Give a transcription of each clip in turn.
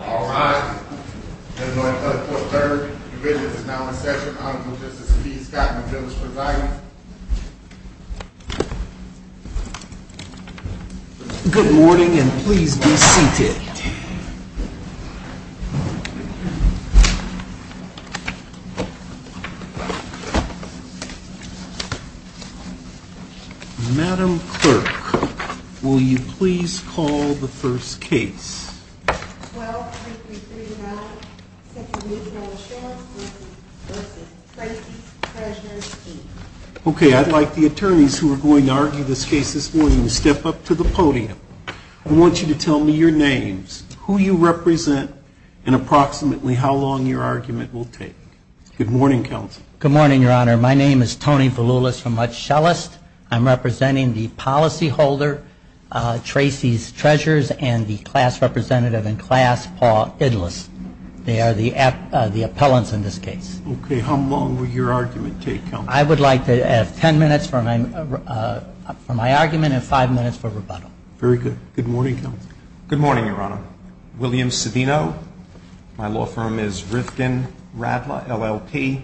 Alright, as my pleasure, the business is now in session. I would like to introduce you to the Chief Capital Bills Provider. Good morning and please be seated. Madam Clerk, will you please call the first case. Well, as you can see now, Mr. Mutual Insurance v. Tracy's Treasures, Inc. Okay, I'd like the attorneys who are going to argue this case this morning to step up to the podium. I want you to tell me your names, who you represent, and approximately how long your argument will take. Good morning, counsel. Good morning, Your Honor. My name is Tony Berlulis from Mutschellest. I'm representing the policyholder, Tracy's Treasures, and the class representative in class, Paul Idlitz. They are the appellants in this case. Okay, how long will your argument take, counsel? I would like to add ten minutes for my argument and five minutes for rebuttal. Very good. Good morning, counsel. Good morning, Your Honor. William Savino. My law firm is Rivkin Radler, LLP,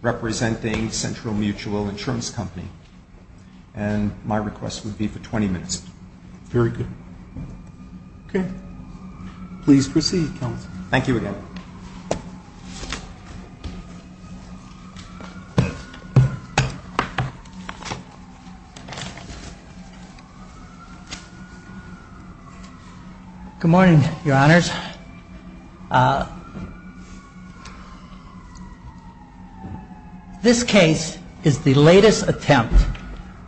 representing Central Mutual Insurance Company. And my request would be for twenty minutes. Very good. Okay. Please proceed, counsel. Thank you, Your Honor. Good morning, Your Honors. This case is the latest attempt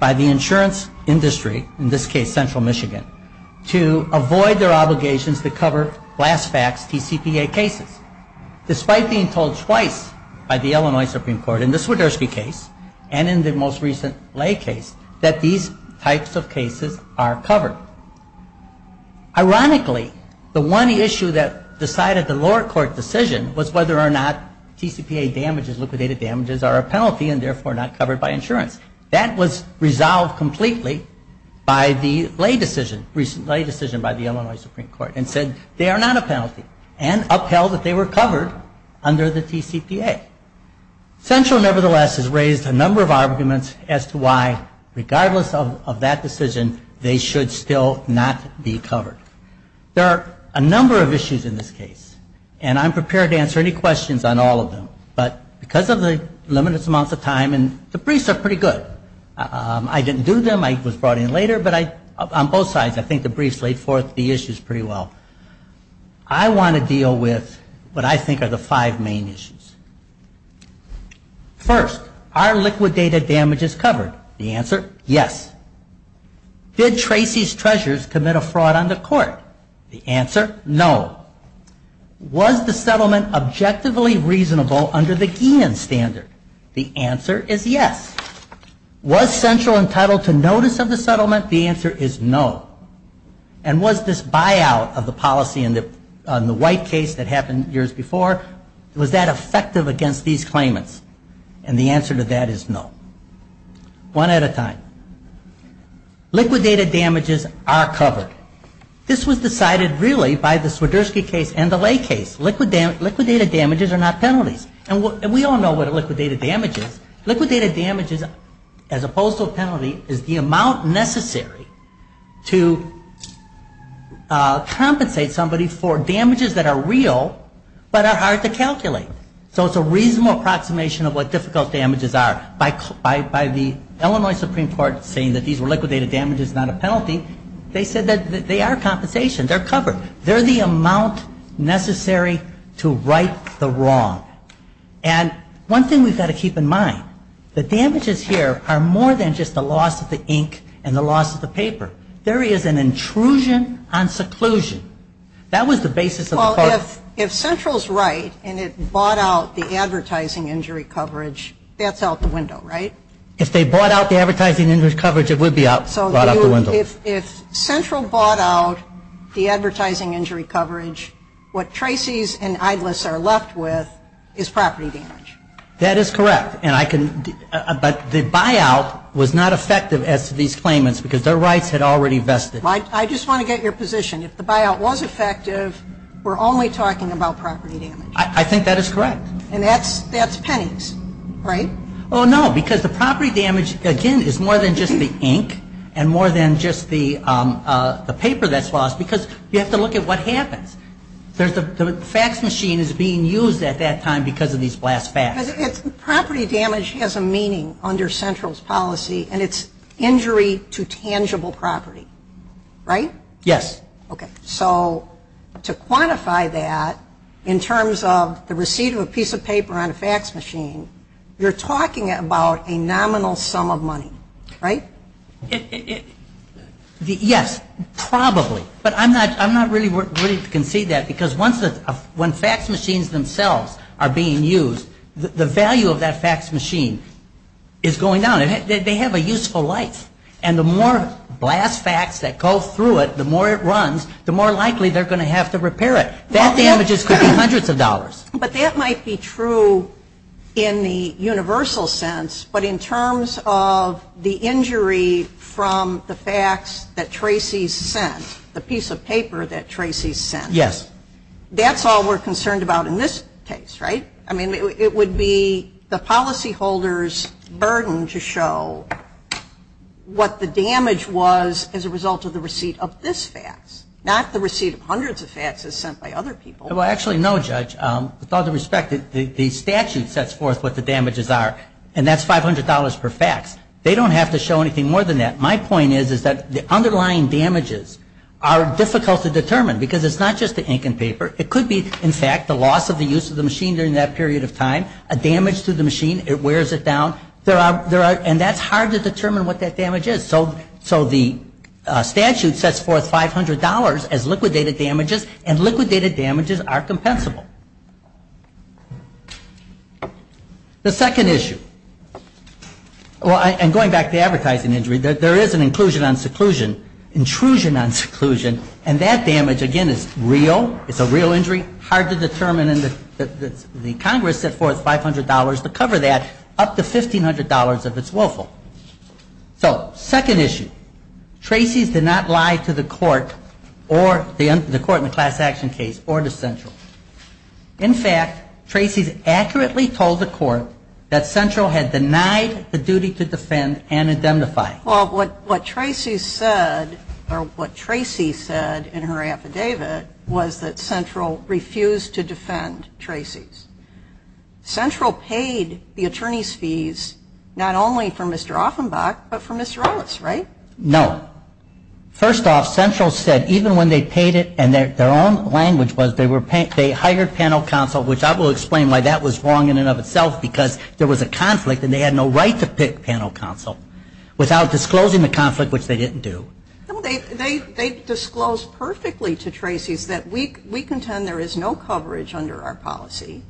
by the insurance industry, in this case Central Michigan, to avoid their obligations to cover flashback TCPA cases. Despite being told twice by the Illinois Supreme Court in the Swiderski case and in the most recent Lay case that these types of cases are covered. Ironically, the one issue that decided the lower court decision was whether or not TCPA damages, liquidated damages, are a penalty and therefore not covered by insurance. That was resolved completely by the Lay decision, recent Lay decision by the Illinois Supreme Court, and said they are not a penalty and upheld that they were covered under the TCPA. Central nevertheless has raised a number of arguments as to why, regardless of that decision, they should still not be covered. There are a number of issues in this case, and I'm prepared to answer any questions on all of them. But because of the limited amount of time, and the briefs are pretty good. I didn't do them. I was brought in later. But on both sides, I think the briefs laid forth the issues pretty well. I want to deal with what I think are the five main issues. First, are liquidated damages covered? The answer, yes. Did Tracy's treasurers commit a fraud on the court? The answer, no. Was the settlement objectively reasonable under the Enum standard? The answer is yes. Was Central entitled to notice of the settlement? The answer is no. And was this buyout of the policy in the White case that happened years before, was that effective against these claimants? And the answer to that is no. One at a time. Liquidated damages are covered. This was decided, really, by the Swiderski case and the Lay case. Liquidated damages are not penalties. And we all know what a liquidated damage is. Liquidated damages, as opposed to a penalty, is the amount necessary to compensate somebody for damages that are real, but are hard to calculate. So it's a reasonable approximation of what difficult damages are. By the Illinois Supreme Court saying that these liquidated damages are not a penalty, they said that they are compensation. They're covered. They're the amount necessary to right the wrong. And one thing we've got to keep in mind, the damages here are more than just the loss of the ink and the loss of the paper. There is an intrusion on seclusion. That was the basis of the court. If Central's right and it bought out the advertising injury coverage, that's out the window, right? If they bought out the advertising injury coverage, it would be out the window. So if Central bought out the advertising injury coverage, what Tracy's and Idler's are left with is property damage. That is correct. But the buyout was not effective against these claimants because their rights had already vested. I just want to get your position. If the buyout was effective, we're only talking about property damage. I think that is correct. And that's pennies, right? Oh, no, because the property damage, again, is more than just the ink and more than just the paper that's lost because you have to look at what happened. The fax machine is being used at that time because of these blast faxes. Property damage has a meaning under Central's policy, and it's injury to tangible property, right? Yes. Okay. So to quantify that in terms of the receipt of a piece of paper on a fax machine, you're talking about a nominal sum of money, right? Yes, probably, but I'm not really ready to concede that because when fax machines themselves are being used, the value of that fax machine is going down. They have a useful life. And the more blast fax that goes through it, the more it runs, the more likely they're going to have to repair it. That damages hundreds of dollars. But that might be true in the universal sense, but in terms of the injury from the fax that Tracy sent, the piece of paper that Tracy sent. Yes. That's all we're concerned about in this case, right? I mean, it would be the policyholder's burden to show what the damage was as a result of the receipt of this fax, not the receipt of hundreds of faxes sent by other people. Well, actually, no, Judge. With all due respect, the statute sets forth what the damages are, and that's $500 per fax. They don't have to show anything more than that. My point is that the underlying damages are difficult to determine because it's not just the ink and paper. It could be, in fact, the loss of the use of the machine during that period of time, a damage to the machine, it wears it down, and that's hard to determine what that damage is. So the statute sets forth $500 as liquidated damages, and liquidated damages are compensable. The second issue, and going back to advertising injury, there is an inclusion on seclusion, intrusion on seclusion, and that damage, again, is real, it's a real injury, hard to determine, and the Congress set forth $500 to cover that, up to $1,500 if it's willful. So, second issue. Tracy did not lie to the court in the class action case or to Central. In fact, Tracy accurately told the court that Central had denied the duty to defend and indemnify. Well, what Tracy said in her affidavit was that Central refused to defend Tracy's. Central paid the attorney's fees not only for Mr. Offenbach but for Mr. Ellis, right? No. First off, Central said even when they paid it, and their own language was they hired panel counsel, which I will explain why that was wrong in and of itself because there was a conflict and they had no right to pick panel counsel without disclosing the conflict, which they didn't do. They disclosed perfectly to Tracy that we contend there is no coverage under our policy.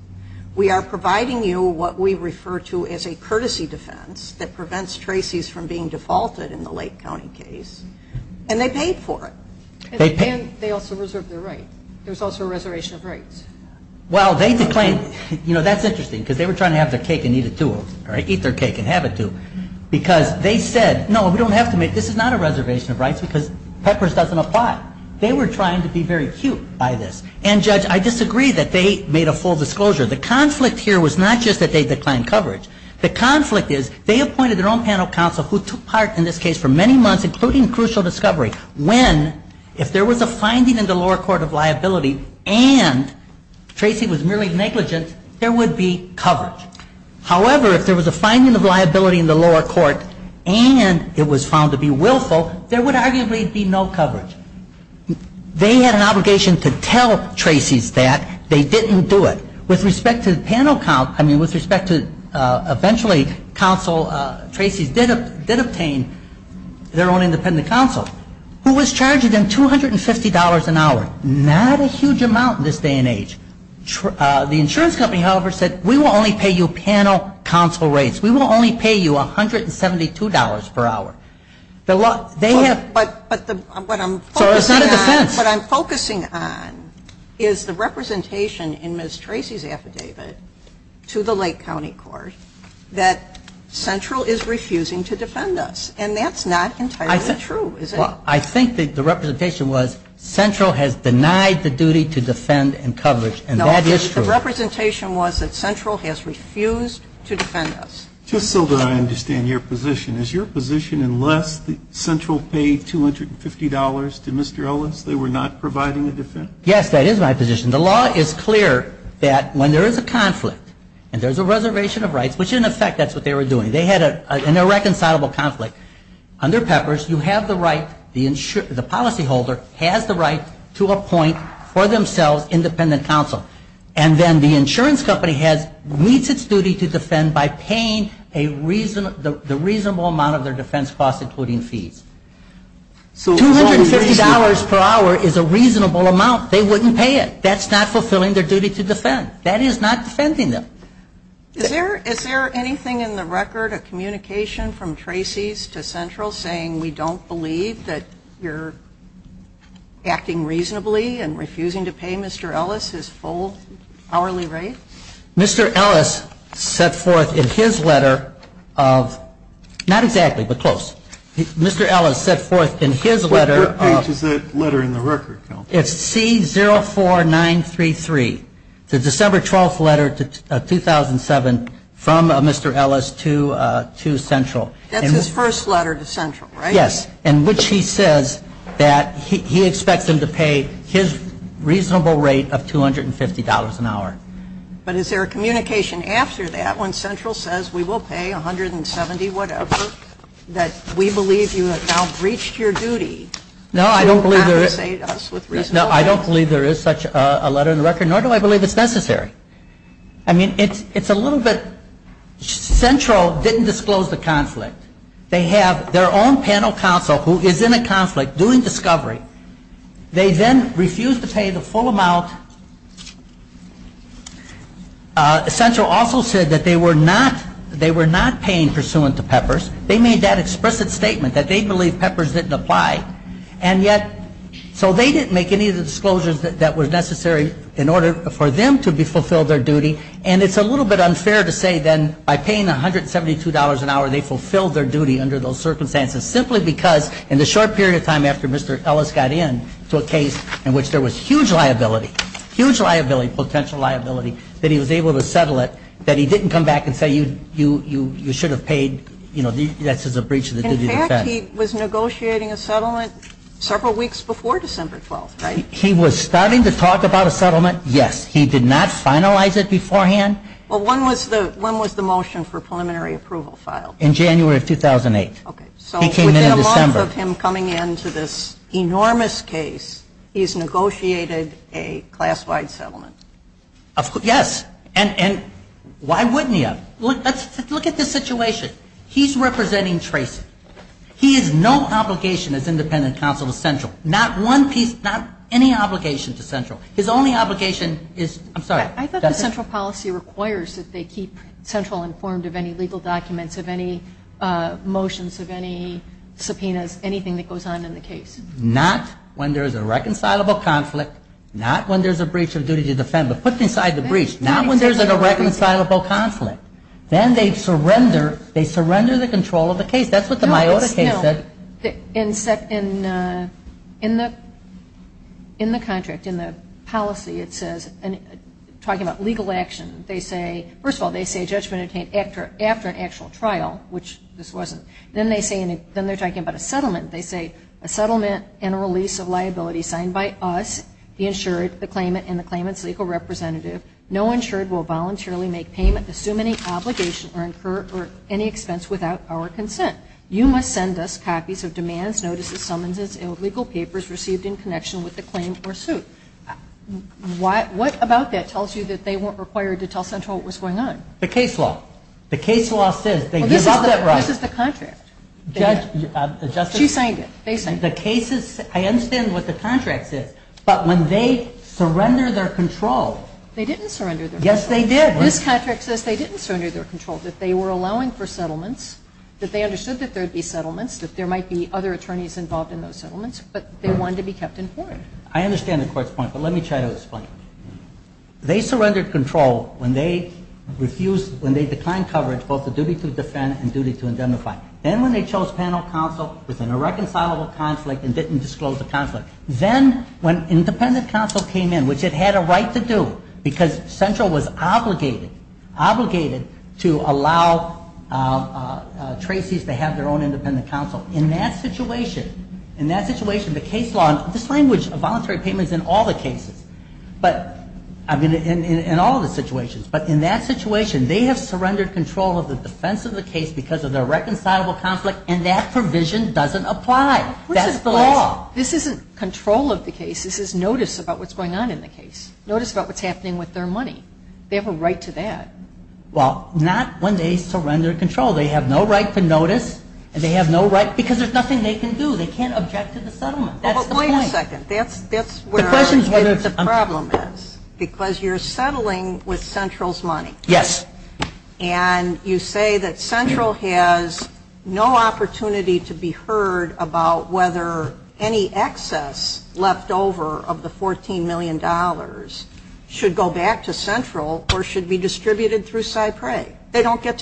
We are providing you what we refer to as a courtesy defense that prevents Tracy's from being defaulted in the Lake County case, and they paid for it. They also reserved their right. There was also a reservation of rights. That's interesting because they were trying to have the cake and eat it to them, right? Eat their cake and have it to them because they said, no, we don't have to make it. This is not a reservation of rights because PECRAS doesn't apply. They were trying to be very cute by this, and, Judge, I disagree that they made a full disclosure. The conflict here was not just that they declined coverage. The conflict is they appointed their own panel counsel who took part in this case for many months, including crucial discovery, when, if there was a finding in the lower court of liability and Tracy was merely negligent, there would be coverage. However, if there was a finding of liability in the lower court and it was found to be willful, there would arguably be no coverage. They had an obligation to tell Tracy that. They didn't do it. With respect to panel counsel, I mean, with respect to eventually counsel, Tracy did obtain their own independent counsel who was charged with $250 an hour, not a huge amount in this day and age. The insurance company, however, said, we will only pay you panel counsel rates. We will only pay you $172 per hour. But what I'm focusing on is the representation in Ms. Tracy's affidavit to the Lake County Court that Central is refusing to defend us, and that's not entirely true, is it? Well, I think the representation was Central has denied the duty to defend and coverage, and that is true. No, the representation was that Central has refused to defend us. Just so that I understand your position, is your position unless Central paid $250 to Mr. Owens, they were not providing a defense? Yes, that is my position. The law is clear that when there is a conflict and there's a reservation of rights, which in effect that's what they were doing. They had an irreconcilable conflict. Under Peppers, the policyholder has the right to appoint for themselves independent counsel. And then the insurance company has reached its duty to defend by paying the reasonable amount of their defense cost, including fees. $250 per hour is a reasonable amount. They wouldn't pay it. That's not fulfilling their duty to defend. That is not defending them. Is there anything in the record of communication from Tracy's to Central saying we don't believe that you're acting reasonably and refusing to pay Mr. Ellis his full hourly rate? Mr. Ellis set forth in his letter of – not exactly, but close. Mr. Ellis set forth in his letter of – What page is that letter in the record? It's C04933, the December 12th letter to 2007 from Mr. Ellis to Central. That's his first letter to Central, right? Yes, in which he says that he expects him to pay his reasonable rate of $250 an hour. But is there a communication after that when Central says we will pay $170, whatever, that we believe you have now reached your duty? No, I don't believe there is such a letter in the record, nor do I believe it's necessary. I mean, it's a little bit – Central didn't disclose the conflict. They have their own panel counsel who is in a conflict doing discovery. They then refuse to pay the full amount. Central also said that they were not paying pursuant to PEPRS. They made that explicit statement that they believe PEPRS didn't apply. And yet – so they didn't make any of the disclosures that were necessary in order for them to fulfill their duty. And it's a little bit unfair to say then by paying $172 an hour, they fulfilled their duty under those circumstances simply because in the short period of time after Mr. Ellis got in to a case in which there was huge liability, huge liability, potential liability, that he was able to settle it, that he didn't come back and say you should have paid – that's a breach of the duty of defense. In fact, he was negotiating a settlement several weeks before December 12th, right? He was starting to talk about a settlement, yes. He did not finalize it beforehand? Well, when was the motion for preliminary approval filed? In January of 2008. Okay. So within a month of him coming in to this enormous case, he's negotiated a class-wide settlement. Yes. And why wouldn't he have? Look at this situation. He's representing Tracy. Not one piece – not any obligation to Central. His only obligation is – I'm sorry. I thought the Central policy requires that they keep Central informed of any legal documents, of any motions, of any subpoenas, anything that goes on in the case. Not when there's a reconcilable conflict, not when there's a breach of duty of defense. But what's inside the breach? Not when there's a reconcilable conflict. Then they surrender the control of the case. That's what the Miyota case said. In the contract, in the policy, it says – talking about legal action, they say – first of all, they say judgment obtained after an actual trial, which this wasn't. Then they're talking about a settlement. They say, a settlement and a release of liability signed by us, the insured, the claimant, and the claimant's legal representative. No insured will voluntarily make payment, assume any obligation, or incur any expense without our consent. You must send us copies of demands, notices, summonses, and legal papers received in connection with the claim or suit. What about that tells you that they weren't required to tell Central what was going on? The case law. The case law says – Well, this is the contract. Judge – She signed it. They signed it. The case is – I understand what the contract is. But when they surrender their controls – They didn't surrender their controls. Yes, they did. This contract says they didn't surrender their controls. That they were allowing for settlements. That they understood that there would be settlements. That there might be other attorneys involved in those settlements. But they wanted to be kept informed. I understand the court's point, but let me try to explain it. They surrendered control when they refused – when they declined coverage, both the duty to defend and duty to identify. Then when they chose panel counsel within a reconcilable conflict and didn't disclose the conflict. Then when independent counsel came in, which it had a right to do, because Central was obligated to allow tracees to have their own independent counsel. In that situation, the case law – This language of voluntary payment is in all the cases. I mean, in all of the situations. But in that situation, they have surrendered control of the defense of the case because of the reconcilable conflict, and that provision doesn't apply. That's the law. This isn't control of the case. This is notice about what's going on in the case. Notice about what's happening with their money. They have a right to that. Well, not when they surrender control. They have no right to notice, and they have no right – because there's nothing they can do. They can't object to the settlement. That's the point. But wait a second. That's where the problem is. Because you're settling with Central's money. Yes. And you say that Central has no opportunity to be heard about whether any excess leftover of the $14 million should go back to Central or should be distributed through Cypress. They don't get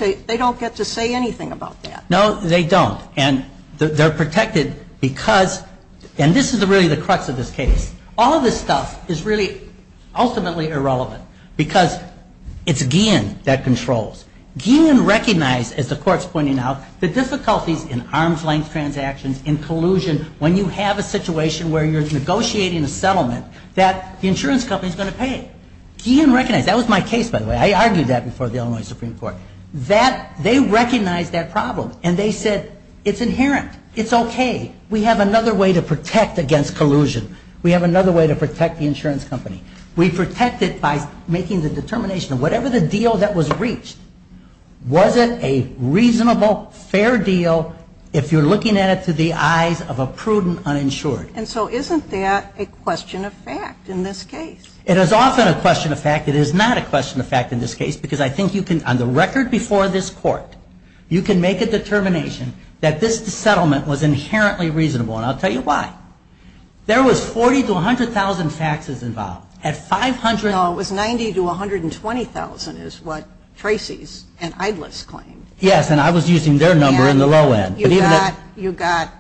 to say anything about that. No, they don't, and they're protected because – and this is really the crux of this case. All of this stuff is really ultimately irrelevant because it's Gein that controls. Gein recognized, as the court's pointing out, the difficulties in arm's-length transactions, in collusion, when you have a situation where you're negotiating a settlement, that the insurance company is going to pay it. Gein recognized – that was my case, by the way. I argued that before the Illinois Supreme Court. They recognized that problem, and they said it's inherent. It's okay. We have another way to protect against collusion. We have another way to protect the insurance company. We protect it by making the determination of whatever the deal that was reached, was it a reasonable, fair deal if you're looking at it through the eyes of a prudent uninsured? And so isn't that a question of fact in this case? It is often a question of fact. It is not a question of fact in this case because I think you can, on the record before this court, you can make a determination that this settlement was inherently reasonable, and I'll tell you why. There was $40,000 to $100,000 taxes involved. No, it was $90,000 to $120,000 is what Tracy's and Idler's claim. Yes, and I was using their number in the low end. You got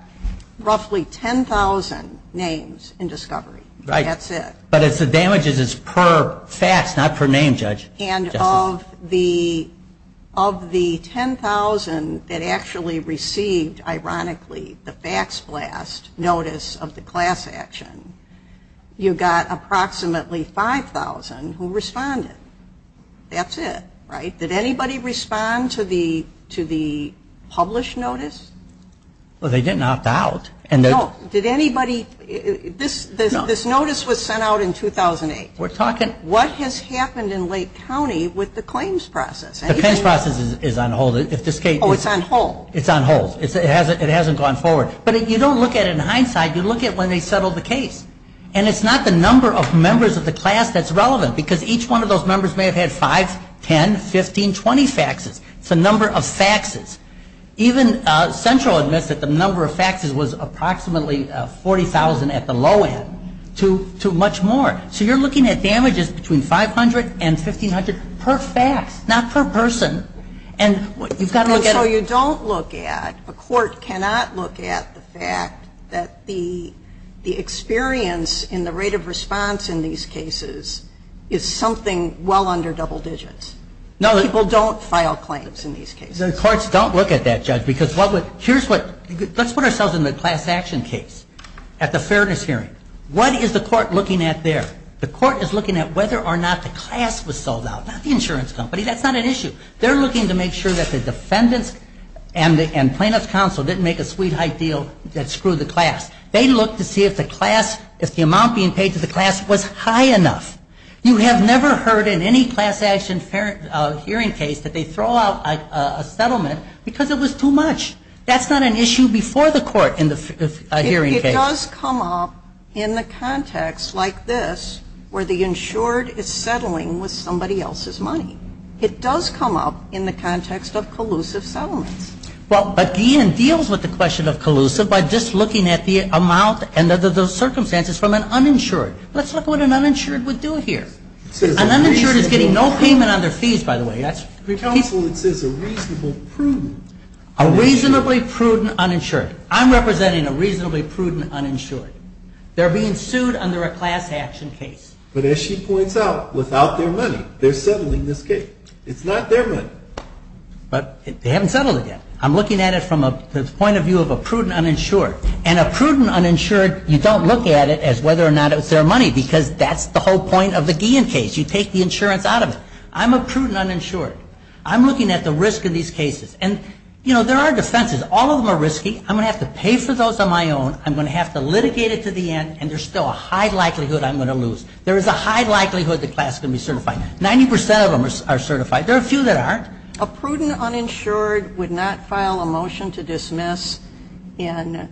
roughly 10,000 names in discovery. Right. That's it. But the damage is per fact, not per name, Judge. And of the 10,000 that actually received, ironically, the fax blast notice of the class action, you've got approximately 5,000 who responded. That's it. Right? Did anybody respond to the published notice? Well, they didn't opt out. No. Did anybody? No. This notice was sent out in 2008. What has happened in Lake County with the claims process? The claims process is on hold. Oh, it's on hold. It's on hold. It hasn't gone forward. But you don't look at it in hindsight. You look at it when they settled the case. And it's not the number of members of the class that's relevant, because each one of those members may have had 5, 10, 15, 20 faxes. It's the number of faxes. Even Central admits that the number of faxes was approximately 40,000 at the low end, to much more. So you're looking at damages between 500 and 1,500 per fact, not per person. And you've got to look at it. A court cannot look at the fact that the experience in the rate of response in these cases is something well under double digits. People don't file claims in these cases. The courts don't look at that, Judge. Let's put ourselves in the class action case at the Fairness Hearing. What is the court looking at there? The court is looking at whether or not the class was sold out. Not the insurance company. That's not an issue. They're looking to make sure that the defendant and plaintiff's counsel didn't make a sweet high deal that screwed the class. They look to see if the class, if the amount being paid to the class was high enough. You have never heard in any class action hearing case that they throw out a settlement because it was too much. That's not an issue before the court in the hearing case. It does come up in the context like this, where the insured is settling with somebody else's money. It does come up in the context of collusive settlement. But Deanne deals with the question of collusive by just looking at the amount and the circumstances from an uninsured. Let's look at what an uninsured would do here. An uninsured is getting no payment on their fees, by the way. The counsel would say it's a reasonably prudent uninsured. A reasonably prudent uninsured. I'm representing a reasonably prudent uninsured. They're being sued under a class action case. But as she points out, without their money, they're settling this case. It's not their money. But they haven't settled it yet. I'm looking at it from the point of view of a prudent uninsured. And a prudent uninsured, you don't look at it as whether or not it's their money because that's the whole point of the Deanne case. You take the insurance out of it. I'm a prudent uninsured. I'm looking at the risk of these cases. And, you know, there are defenses. All of them are risky. I'm going to have to pay for those on my own. I'm going to have to litigate it to the end, and there's still a high likelihood I'm going to lose. There's a high likelihood the class is going to be certified. Ninety percent of them are certified. There are a few that aren't. A prudent uninsured would not file a motion to dismiss in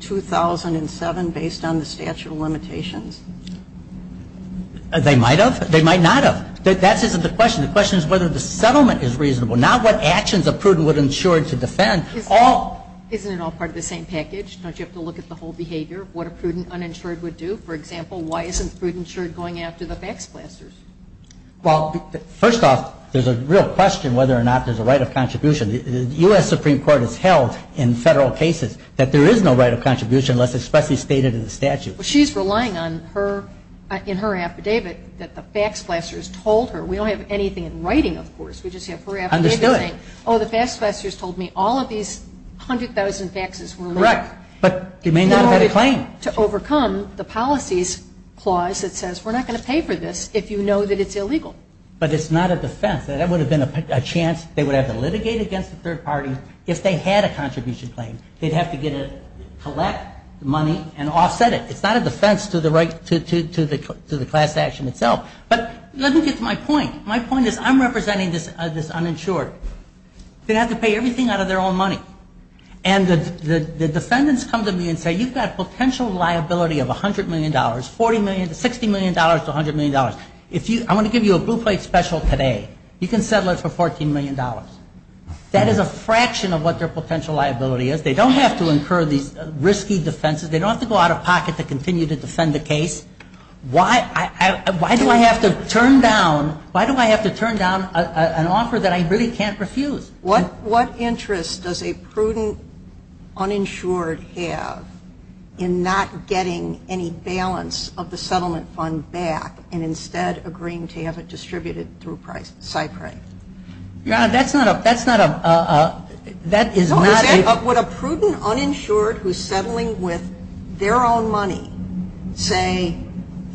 2007 based on the statute of limitations. They might have. They might not have. But that isn't the question. The question is whether the settlement is reasonable, not what actions a prudent uninsured would defend. Isn't it all part of the same package? Don't you have to look at the whole behavior, what a prudent uninsured would do? For example, why isn't prudent uninsured going after the fax blasters? Well, first off, there's a real question whether or not there's a right of contribution. The U.S. Supreme Court has held in several cases that there is no right of contribution unless it's perfectly stated in the statute. Well, she's relying on in her affidavit that the fax blasters told her. We don't have anything in writing, of course. We just have her affidavit saying, Oh, the fax blasters told me all of these 100,000 faxes were wrong. Correct. But you may not have had a claim. To overcome the policies clause that says we're not going to pay for this if you know that it's illegal. But it's not a defense. That would have been a chance they would have to litigate against the third party if they had a contribution claim. They'd have to collect money and offset it. It's not a defense to the class action itself. But I think it's my point. My point is I'm representing this uninsured. They're going to have to pay everything out of their own money. And the defendants come to me and say, You've got a potential liability of $100 million, $60 million to $100 million. I want to give you a blue plate special today. You can settle it for $14 million. That is a fraction of what their potential liability is. They don't have to incur these risky defenses. They don't have to go out of pocket to continue to defend the case. Why do I have to turn down an offer that I really can't refuse? What interest does a prudent uninsured have in not getting any balance of the settlement fund back and instead agreeing to have it distributed through SIPRE? Your Honor, that's not a... Would a prudent uninsured who's settling with their own money say,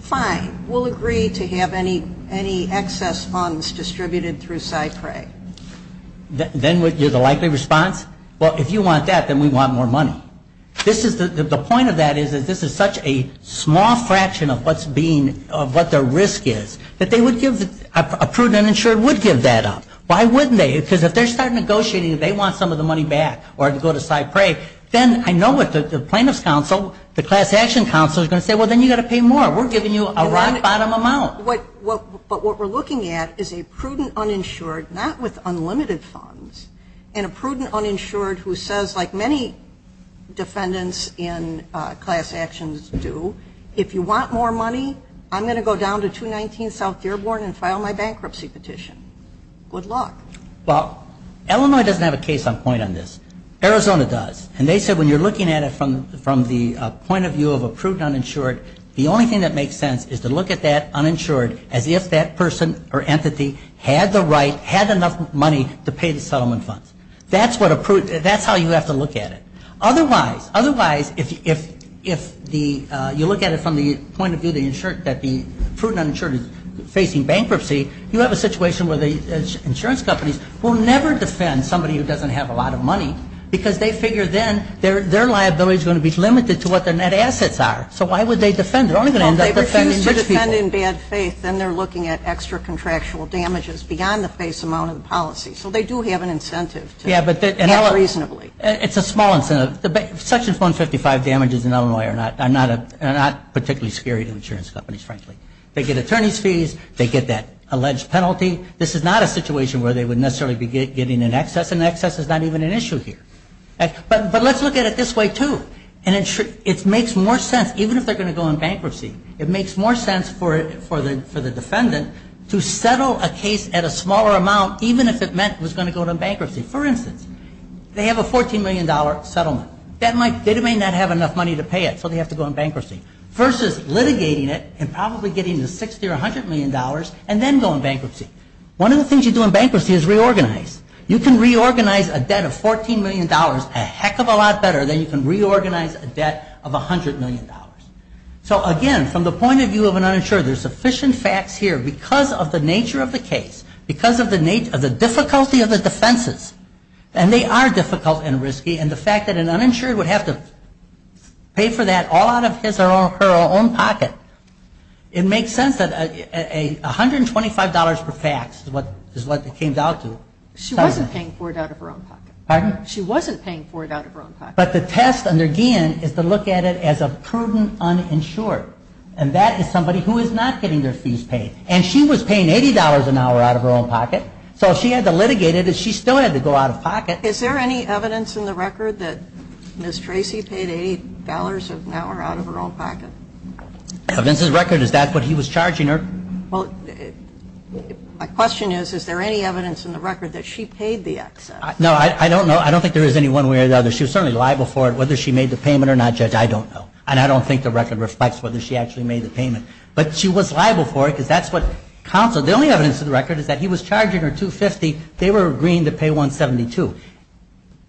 Fine, we'll agree to have any excess funds distributed through SIPRE? Then you're the likely response? Well, if you want that, then we want more money. The point of that is this is such a small fraction of what their risk is that a prudent uninsured would give that up. Why wouldn't they? Because if they start negotiating they want some of the money back or to go to SIPRE, then I know what the plaintiff's counsel, the class action counsel, is going to say, Well, then you've got to pay more. We're giving you a rock-bottom amount. But what we're looking at is a prudent uninsured, not with unlimited funds, and a prudent uninsured who says, like many defendants in class actions do, If you want more money, I'm going to go down to 219 South Dearborn and file my bankruptcy petition. Good luck. Well, Illinois doesn't have a case on point on this. Arizona does. And they said when you're looking at it from the point of view of a prudent uninsured, the only thing that makes sense is to look at that uninsured as if that person or entity had the right, had enough money to pay the settlement funds. That's how you have to look at it. Otherwise, if you look at it from the point of view that the prudent uninsured is facing bankruptcy, you have a situation where the insurance companies will never defend somebody who doesn't have a lot of money because they figure then their liability is going to be limited to what their net assets are. So why would they defend? They're only going to end up defending the people. Well, if they refuse to defend in bad faith, then they're looking at extra contractual damages beyond the face amount of the policy. So they do have an incentive to act reasonably. It's a small incentive. Section 155 damages in Illinois are not particularly scary to insurance companies, frankly. They get attorney's fees. They get that alleged penalty. This is not a situation where they would necessarily be getting an excess. An excess is not even an issue here. But let's look at it this way, too. It makes more sense, even if they're going to go on bankruptcy, it makes more sense for the defendant to settle a case at a smaller amount even if it meant it was going to go on bankruptcy. For instance, they have a $14 million settlement. They may not have enough money to pay it, so they have to go on bankruptcy versus litigating it and probably getting the $60 or $100 million and then going on bankruptcy. One of the things you do on bankruptcy is reorganize. You can reorganize a debt of $14 million a heck of a lot better than you can reorganize a debt of $100 million. So, again, from the point of view of an insurer, there's sufficient facts here because of the nature of the case, because of the difficulty of the defenses. And they are difficult and risky, and the fact that an uninsured would have to pay for that all out of his or her own pocket, it makes sense that $125 per fax is what it came down to. She wasn't paying for it out of her own pocket. Pardon? She wasn't paying for it out of her own pocket. But the test, again, is to look at it as a prudent uninsured, and that is somebody who is not getting their fees paid. And she was paying $80 an hour out of her own pocket, so she had to litigate it, and she still had to go out of pocket. Is there any evidence in the record that Ms. Tracy paid $80 an hour out of her own pocket? Against his record, is that what he was charging her? Well, my question is, is there any evidence in the record that she paid the excess? No, I don't know. I don't think there is any one way or the other. She was certainly liable for it. Whether she made the payment or not, I don't know. And I don't think the record respects whether she actually made the payment. But she was liable for it, because that's what counsel, the only evidence in the record is that he was charging her $250. They were agreeing to pay $172.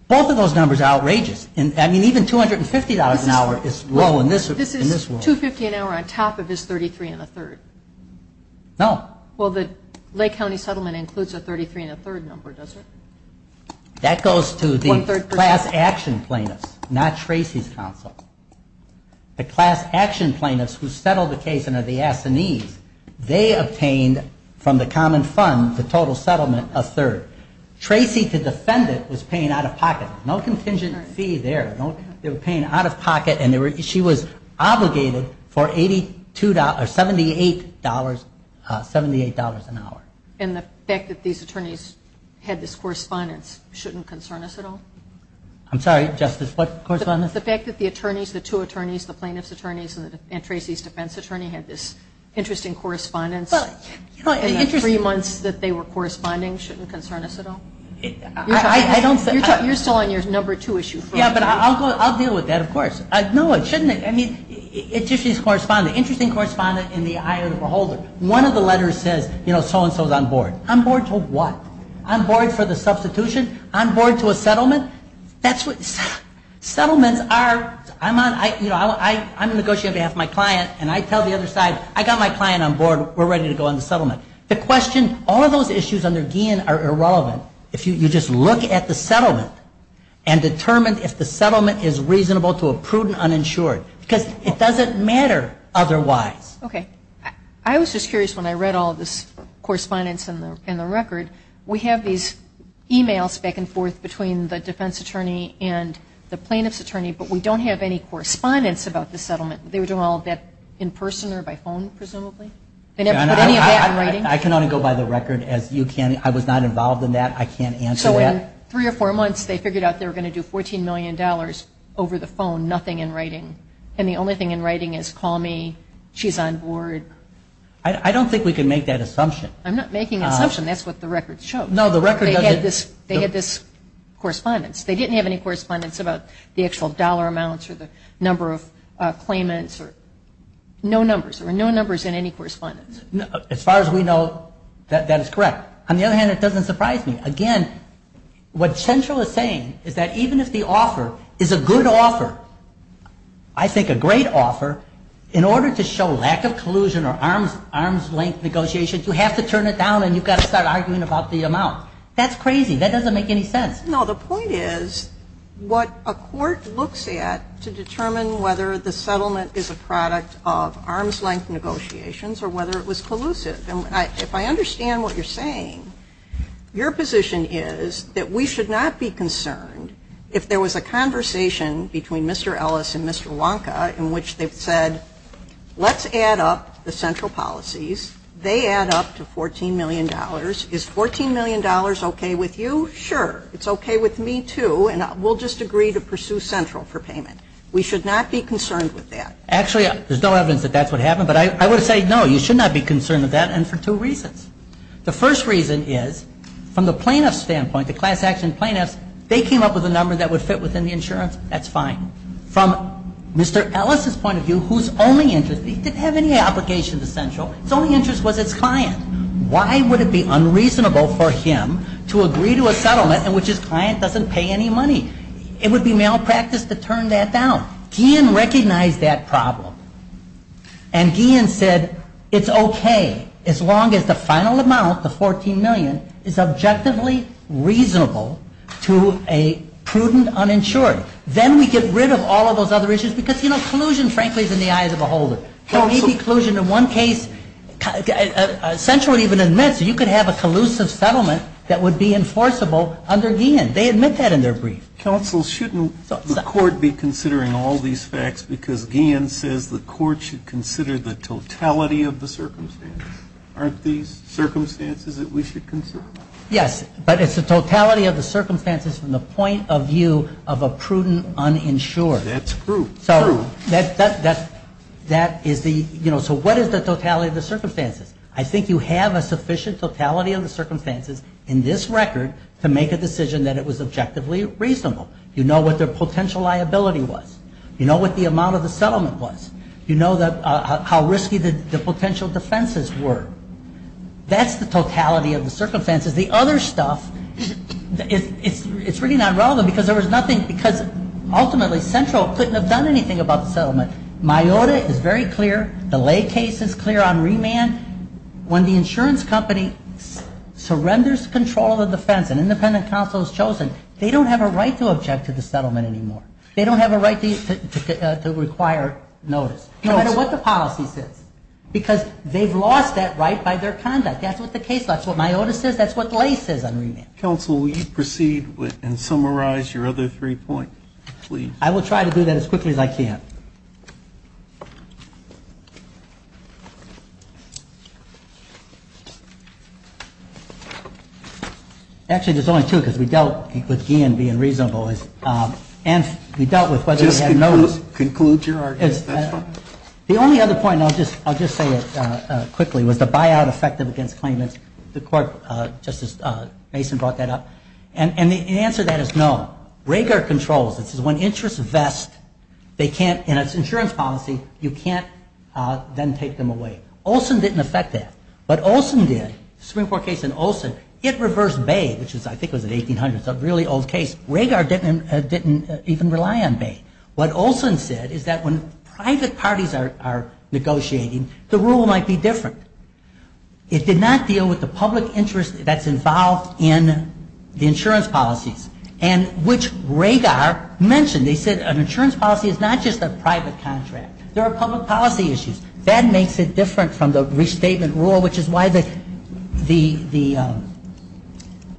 Both of those numbers are outrageous. I mean, even $250 an hour is low in this world. This is $250 an hour on top of this $33 1 3rd. No. Well, the Lake County settlement includes a $33 1 3rd number, doesn't it? That goes to the class action plaintiff, not Tracy's counsel. The class action plaintiffs who settled the case and are the assignees, they obtained from the common fund the total settlement, 1 3rd. Tracy, to defend it, was paying out-of-pocket. No contingency there. They were paying out-of-pocket. And she was obligated for $78 an hour. And the fact that these attorneys had this correspondence shouldn't concern us at all? I'm sorry, Justice, what correspondence? The fact that the attorneys, the two attorneys, the plaintiff's attorneys and Tracy's defense attorney had this interesting correspondence in the three months that they were corresponding shouldn't concern us at all? You're still on your number two issue. Yeah, but I'll deal with that, of course. No, it shouldn't. I mean, it's just interesting correspondence in the eye of the beholder. One of the letters said, you know, so-and-so is on board. On board to what? On board for the substitution? On board to a settlement? Settlements are, you know, I'm negotiating to have my client and I tell the other side, I got my client on board, we're ready to go on the settlement. The question, all of those issues under Guillen are irrelevant if you just look at the settlement and determine if the settlement is reasonable to a prudent uninsured. Because it doesn't matter otherwise. Okay. I was just curious when I read all this correspondence in the record, we have these emails back and forth between the defense attorney and the plaintiff's attorney, but we don't have any correspondence about the settlement. They were doing all of that in person or by phone, presumably? I can only go by the record. I was not involved in that. I can't answer that. So in three or four months, they figured out they were going to do $14 million over the phone, nothing in writing. And the only thing in writing is call me, she's on board. I don't think we can make that assumption. I'm not making an assumption. That's what the record shows. They had this correspondence. They didn't have any correspondence about the actual dollar amounts or the number of claimants or no numbers. There were no numbers in any correspondence. As far as we know, that is correct. On the other hand, it doesn't surprise me. Again, what Central is saying is that even if the offer is a good offer, I think a great offer, in order to show lack of collusion or arm's length negotiations, you have to turn it down and you've got to start arguing about the amount. That's crazy. That doesn't make any sense. No, the point is what a court looks at to determine whether the settlement is a product of arm's length negotiations or whether it was collusive. If I understand what you're saying, your position is that we should not be concerned if there was a conversation between Mr. Ellis and Mr. Wonka in which they said, let's add up the Central policies. They add up to $14 million. Is $14 million OK with you? Sure. It's OK with me, too, and we'll just agree to pursue Central for payment. We should not be concerned with that. Actually, there's no evidence that that's what happened, but I would say, no, you should not be concerned with that and for two reasons. The first reason is, from the plaintiff's standpoint, the class-action plaintiff, they came up with a number that would fit within the insurance. That's fine. From Mr. Ellis' point of view, who's only interested, he doesn't have any obligation to Central. His only interest was his client. Why would it be unreasonable for him to agree to a settlement in which his client doesn't pay any money? It would be malpractice to turn that down. Guillen recognized that problem. And Guillen said, it's OK as long as the final amount, the $14 million, is objectively reasonable to a prudent uninsured. Then we get rid of all of those other issues because collusion, frankly, is in the eyes of the beholder. Any collusion in one case, Central even admits you can have a collusive settlement that would be enforceable under Guillen. They admit that in their brief. Counsel, shouldn't the court be considering all these facts because Guillen says the court should consider the totality of the circumstances. Aren't these circumstances that we should consider? Yes, but it's the totality of the circumstances from the point of view of a prudent uninsured. That's proof. So what is the totality of the circumstances? I think you have a sufficient totality of the circumstances in this record to make a decision that it was objectively reasonable. You know what their potential liability was. You know what the amount of the settlement was. You know how risky the potential defenses were. That's the totality of the circumstances. The other stuff, it's really not relevant because ultimately, Central couldn't have done anything about the settlement. MIOTA is very clear. The Lay case is clear on remand. When the insurance company surrenders control of the defense and independent counsel is chosen, they don't have a right to object to the settlement anymore. They don't have a right to require notice, no matter what the policy says, because they've lost that right by their conduct. That's what the case says. That's what MIOTA says. That's what Lay says on remand. Counsel, will you proceed and summarize your other three points, please? I will try to do that as quickly as I can. Actually, there's only two, because we dealt with GM being reasonable. And we dealt with whether we had notice. Just to conclude your argument. The only other point, and I'll just say it quickly, was the buyout effective against claimants. The court, Justice Mason, brought that up. And the answer to that is no. RAGAR controls. This is when interests vest. They can't, in an insurance policy, you can't then take them away. Olson didn't affect that. What Olson did, Supreme Court case in Olson, it reversed Bay, which I think was in 1800. It's a really old case. RAGAR didn't even rely on Bay. What Olson said is that when private parties are negotiating, the rule might be different. It did not deal with the public interest that's involved in the insurance policies. And which RAGAR mentioned. They said an insurance policy is not just a private contract. There are public policy issues. That makes it different from the restatement rule, which is why the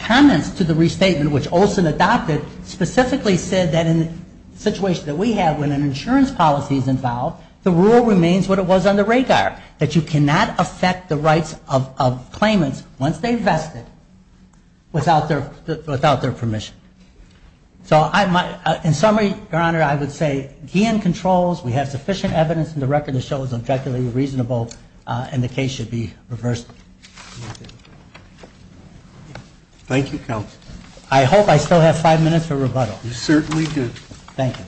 comments to the restatement, which Olson adopted, specifically said that in the situation that we have when an insurance policy is involved, the rule remains what it was under RAGAR. That you cannot affect the rights of claimants once they invest it without their permission. So in summary, Your Honor, I would say Gann controls. We have sufficient evidence in the record to show it was objectively reasonable. And the case should be reversed. Thank you, counsel. I hope I still have five minutes for rebuttal. You certainly do. Thank you.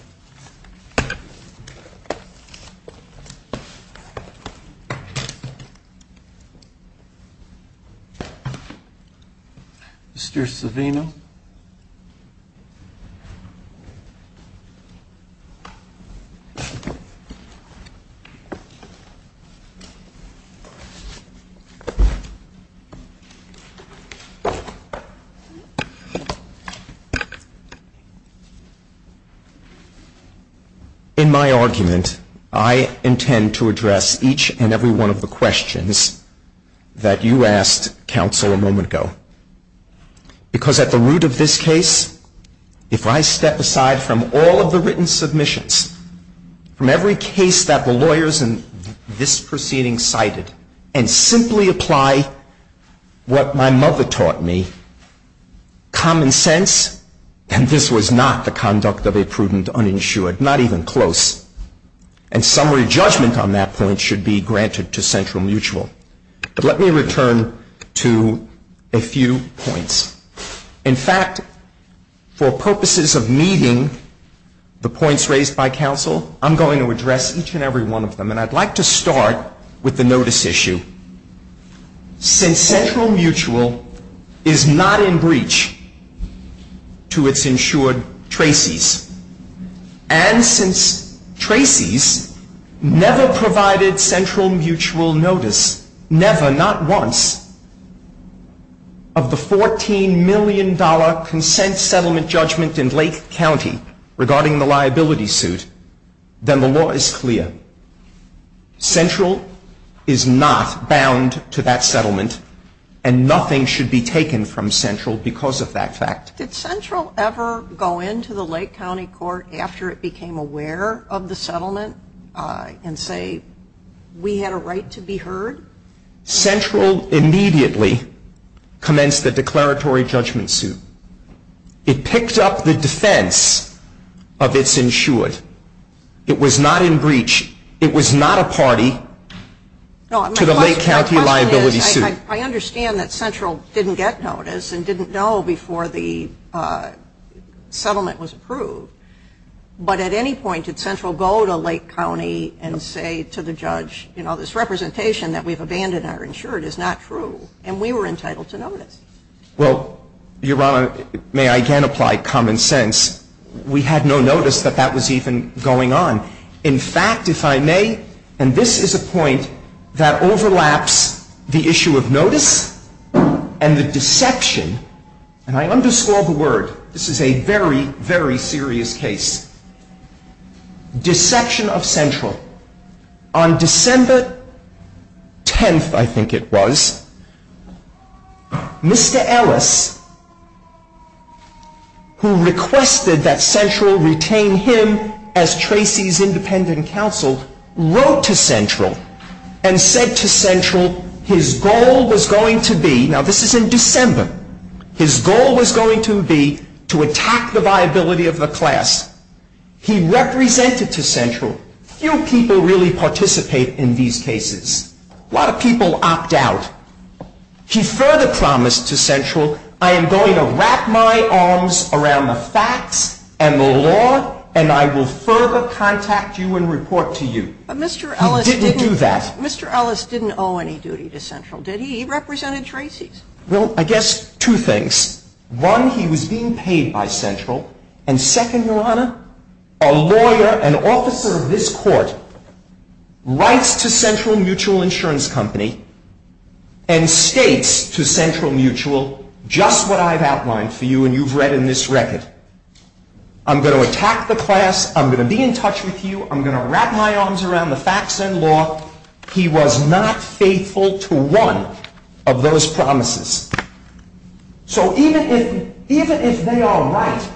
Mr. Savino? In my argument, I intend to address each and every one of the questions that you asked counsel a moment ago. Because at the root of this case, if I step aside from all of the written submissions, from every case that the lawyers in this proceeding cited, and simply apply what my mother taught me, common sense, and this was not the conduct of a prudent uninsured, not even close, and summary judgment on that point should be granted to Central Mutual. But let me return to a few points. In fact, for purposes of meeting the points raised by counsel, I'm going to address each and every one of them. And I'd like to start with the notice issue. Since Central Mutual is not in breach to its insured tracies, and since tracies never provided Central Mutual notice, never, not once, of the $14 million consent settlement judgment in Lake County regarding the liability suit, then the law is clear. Central is not bound to that settlement, and nothing should be taken from Central because of that fact. Did Central ever go into the Lake County court after it became aware of the settlement and say we had a right to be heard? Central immediately commenced the declaratory judgment suit. It picked up the defense of its insured. It was not in breach. It was not a party to the Lake County liability suit. I understand that Central didn't get notice and didn't know before the settlement was approved, but at any point did Central go to Lake County and say to the judge, you know, this representation that we've abandoned our insured is not true, and we were entitled to notice? Well, Your Honor, may I again apply common sense? We had no notice that that was even going on. In fact, if I may, and this is a point that overlaps the issue of notice and the deception, and I underscore the word. This is a very, very serious case. Deception of Central. On December 10th, I think it was, Mr. Ellis, who requested that Central retain him as Tracy's independent counsel, wrote to Central and said to Central his goal was going to be, now this is in December, his goal was going to be to attack the viability of the class. He represented to Central, few people really participate in these cases. A lot of people opt out. He further promised to Central, I am going to wrap my arms around the facts and the law, and I will further contact you and report to you. He didn't do that. Mr. Ellis didn't owe any duty to Central, did he? He represented Tracy's. Well, I guess two things. One, he was being paid by Central, and second, Your Honor, a lawyer, an officer of this court, writes to Central Mutual Insurance Company and states to Central Mutual just what I've outlined for you and you've read in this record. I'm going to attack the class. I'm going to be in touch with you. I'm going to wrap my arms around the facts and law. He was not faithful to one of those promises. So even if they are right,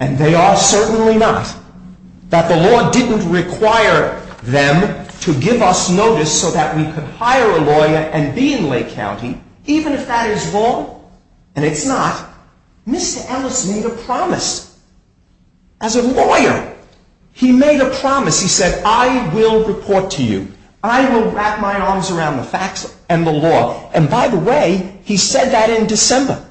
and they are certainly not, that the law didn't require them to give us notice so that we could hire a lawyer and be in Lake County, even if that is wrong, and it's not, Mr. Ellis made a promise. As a lawyer, he made a promise. He said, I will report to you. I will wrap my arms around the facts and the law. And by the way, he said that in December.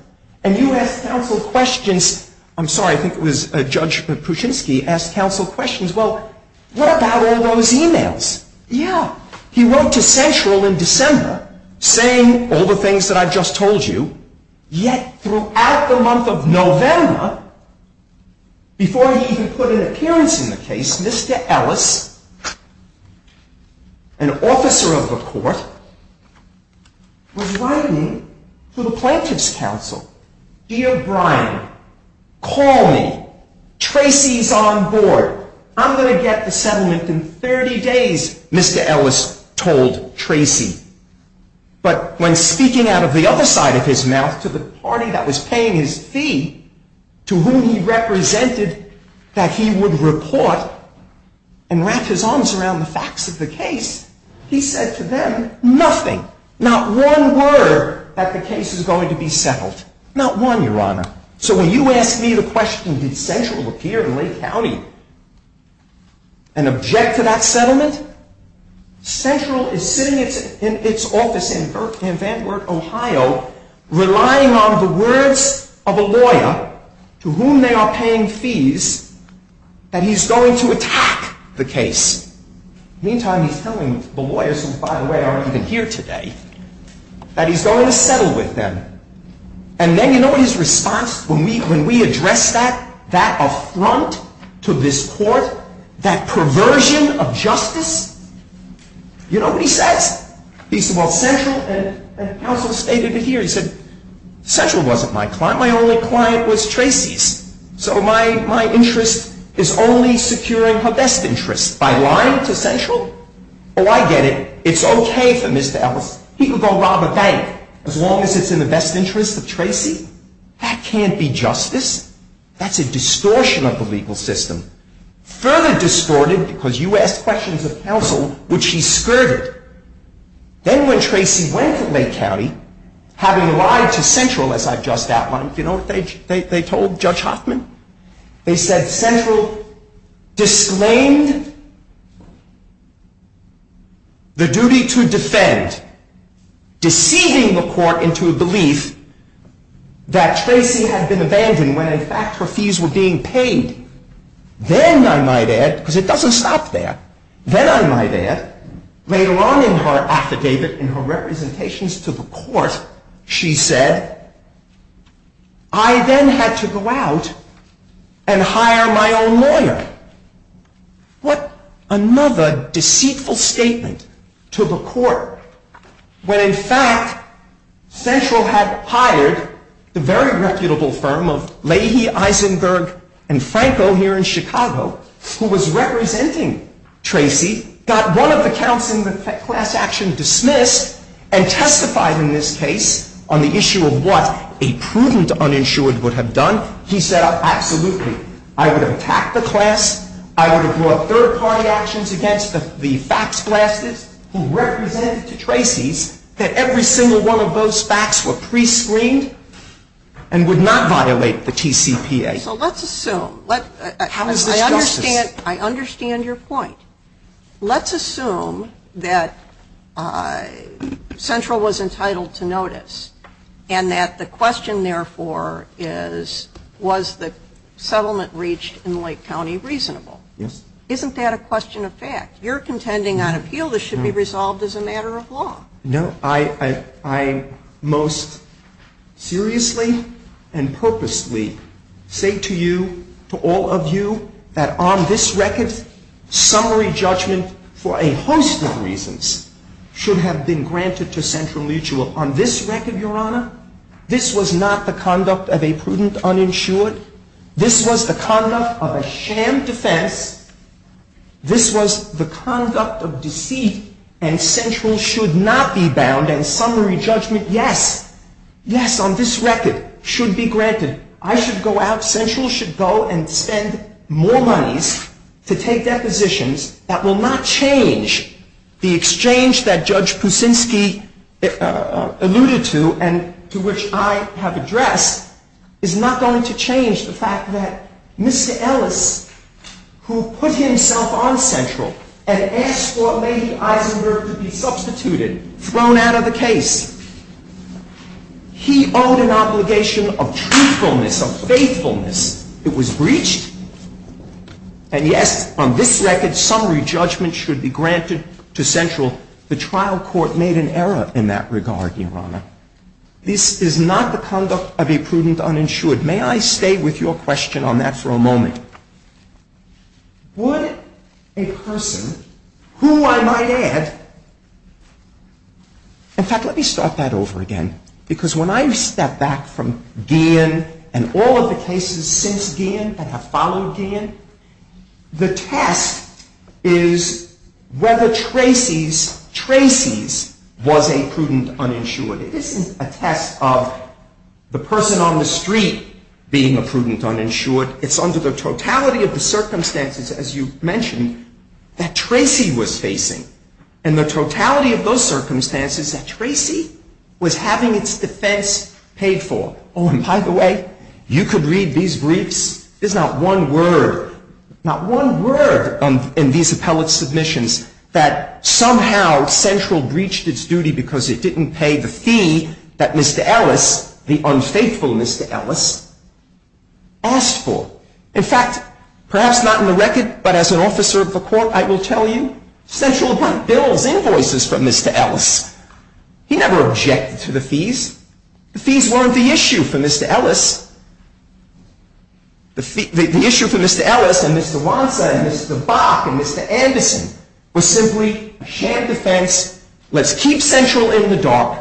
And you asked counsel questions. I'm sorry, I think it was Judge Kuczynski asked counsel questions. Well, what about all those emails? Yeah, he wrote to Central in December saying all the things that I've just told you, yet throughout the month of November, before he could put an appearance in the case, Mr. Ellis, an officer of the court, was writing to the Plaintiffs' Counsel. Dear Brian, call me. Tracy's on board. I'm going to get the settlement in 30 days, Mr. Ellis told Tracy. But when speaking out of the other side of his mouth to the party that was paying his fee, to whom he represented that he would report and wrap his arms around the facts of the case, he said to them, nothing. Not one word that the case is going to be settled. Not one, Your Honor. So when you ask me the question, would Central appear in Lake County and object to that settlement? Central is sitting in its office in Van Wert, Ohio, relying on the words of a lawyer to whom they are paying fees that he's going to attack the case. Meantime, he's telling the lawyers, who, by the way, aren't even here today, that he's going to settle with them. And then you know his response when we address that, that affront to this court, that perversion of justice? You know what he said? He said, well, Central and Ellis stated it here. He said, Central wasn't my client. My only client was Tracy's. So my interest is only securing her best interest. By lying to Central? Oh, I get it. It's okay for Mr. Ellis. He can go rob a bank as long as it's in the best interest of Tracy. That can't be justice. That's a distortion of the legal system. Further distorted, because you asked questions of counsel, which he skirted. Then when Tracy went to Lake County, having lied to Central, as I've just outlined, you know what they told Judge Hoffman? They said Central disclaimed the duty to defend, deceiving the court into a belief that Tracy had been abandoned when in fact her fees were being paid. Then I might add, because it doesn't stop there, then I might add, later on in her affidavit and her representations to the court, she said, I then had to go out and hire my own lawyer. What another deceitful statement to the court, when in fact Central had hired the very reputable firm of Leahy, Eisenberg, and Franco here in Chicago, who was representing Tracy, got one of the counsel in the class action dismissed and testified in this case on the issue of what a prudent uninsured would have done. He said, absolutely. I would have packed the class. I would have brought third-party actions against the facts classes who represented to Tracy that every single one of those facts were prescreened and would not violate the TCPA. Okay, so let's assume. I understand your point. Let's assume that Central was entitled to notice and that the question therefore is, was the settlement reached in Lake County reasonable? Isn't that a question of fact? You're contending on a field that should be resolved as a matter of law. No, I most seriously and purposely say to you, to all of you, that on this record, summary judgment for a host of reasons should have been granted to Central Mutual. On this record, Your Honor, this was not the conduct of a prudent uninsured. This was the conduct of a sham defense. and Central should not be bound and summary judgment, yes. Yes, on this record, should be granted. I should go out. Central should go and spend more money to take that position that will not change the exchange that Judge Kuczynski alluded to and to which I have addressed is not going to change the fact that Mr. Ellis, who put himself on Central and asked for Lady Eisenberg to be substituted, thrown out of the case. He owed an obligation of truthfulness, of faithfulness. It was breached. And yes, on this record, summary judgment should be granted to Central. The trial court made an error in that regard, Your Honor. This is not the conduct of a prudent uninsured. May I stay with your question on that for a moment? Would a person, who I might add, in fact, let me start that over again because when I step back from Gann and all of the cases since Gann and have followed Gann, the test is whether Tracy's, Tracy's was a prudent uninsured. It isn't a test of the person on the street being a prudent uninsured. It's under the totality of the circumstances as you mentioned, that Tracy was facing. And the totality of those circumstances that Tracy was having its defense paid for. Oh, and by the way, you could read these briefs. There's not one word, not one word in these appellate submissions that somehow Central breached its duty because it didn't pay the fee that Mr. Ellis, the unfaithful Mr. Ellis, asked for. In fact, perhaps not in the record, but as an officer of the court, I will tell you, Central didn't bill invoices for Mr. Ellis. He never objected to the fees. The fees weren't the issue for Mr. Ellis. The issue for Mr. Ellis and Mr. Ronson and Mr. Bach and Mr. Anderson was simply a sham defense. Let's keep Central in the dark.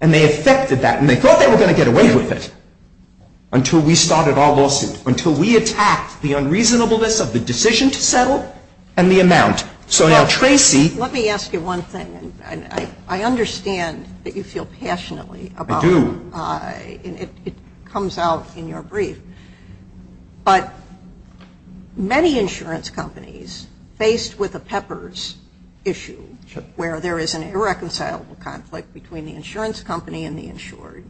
And they accepted that and they thought they were going to get away with it until we started our lawsuit, until we attacked the unreasonableness of the decision to settle and the amount. So now Tracy- Let me ask you one thing. I understand that you feel passionately about- I do. It comes out in your brief, but many insurance companies faced with a peppers issue where there is an irreconcilable conflict between the insurance company and the insurer.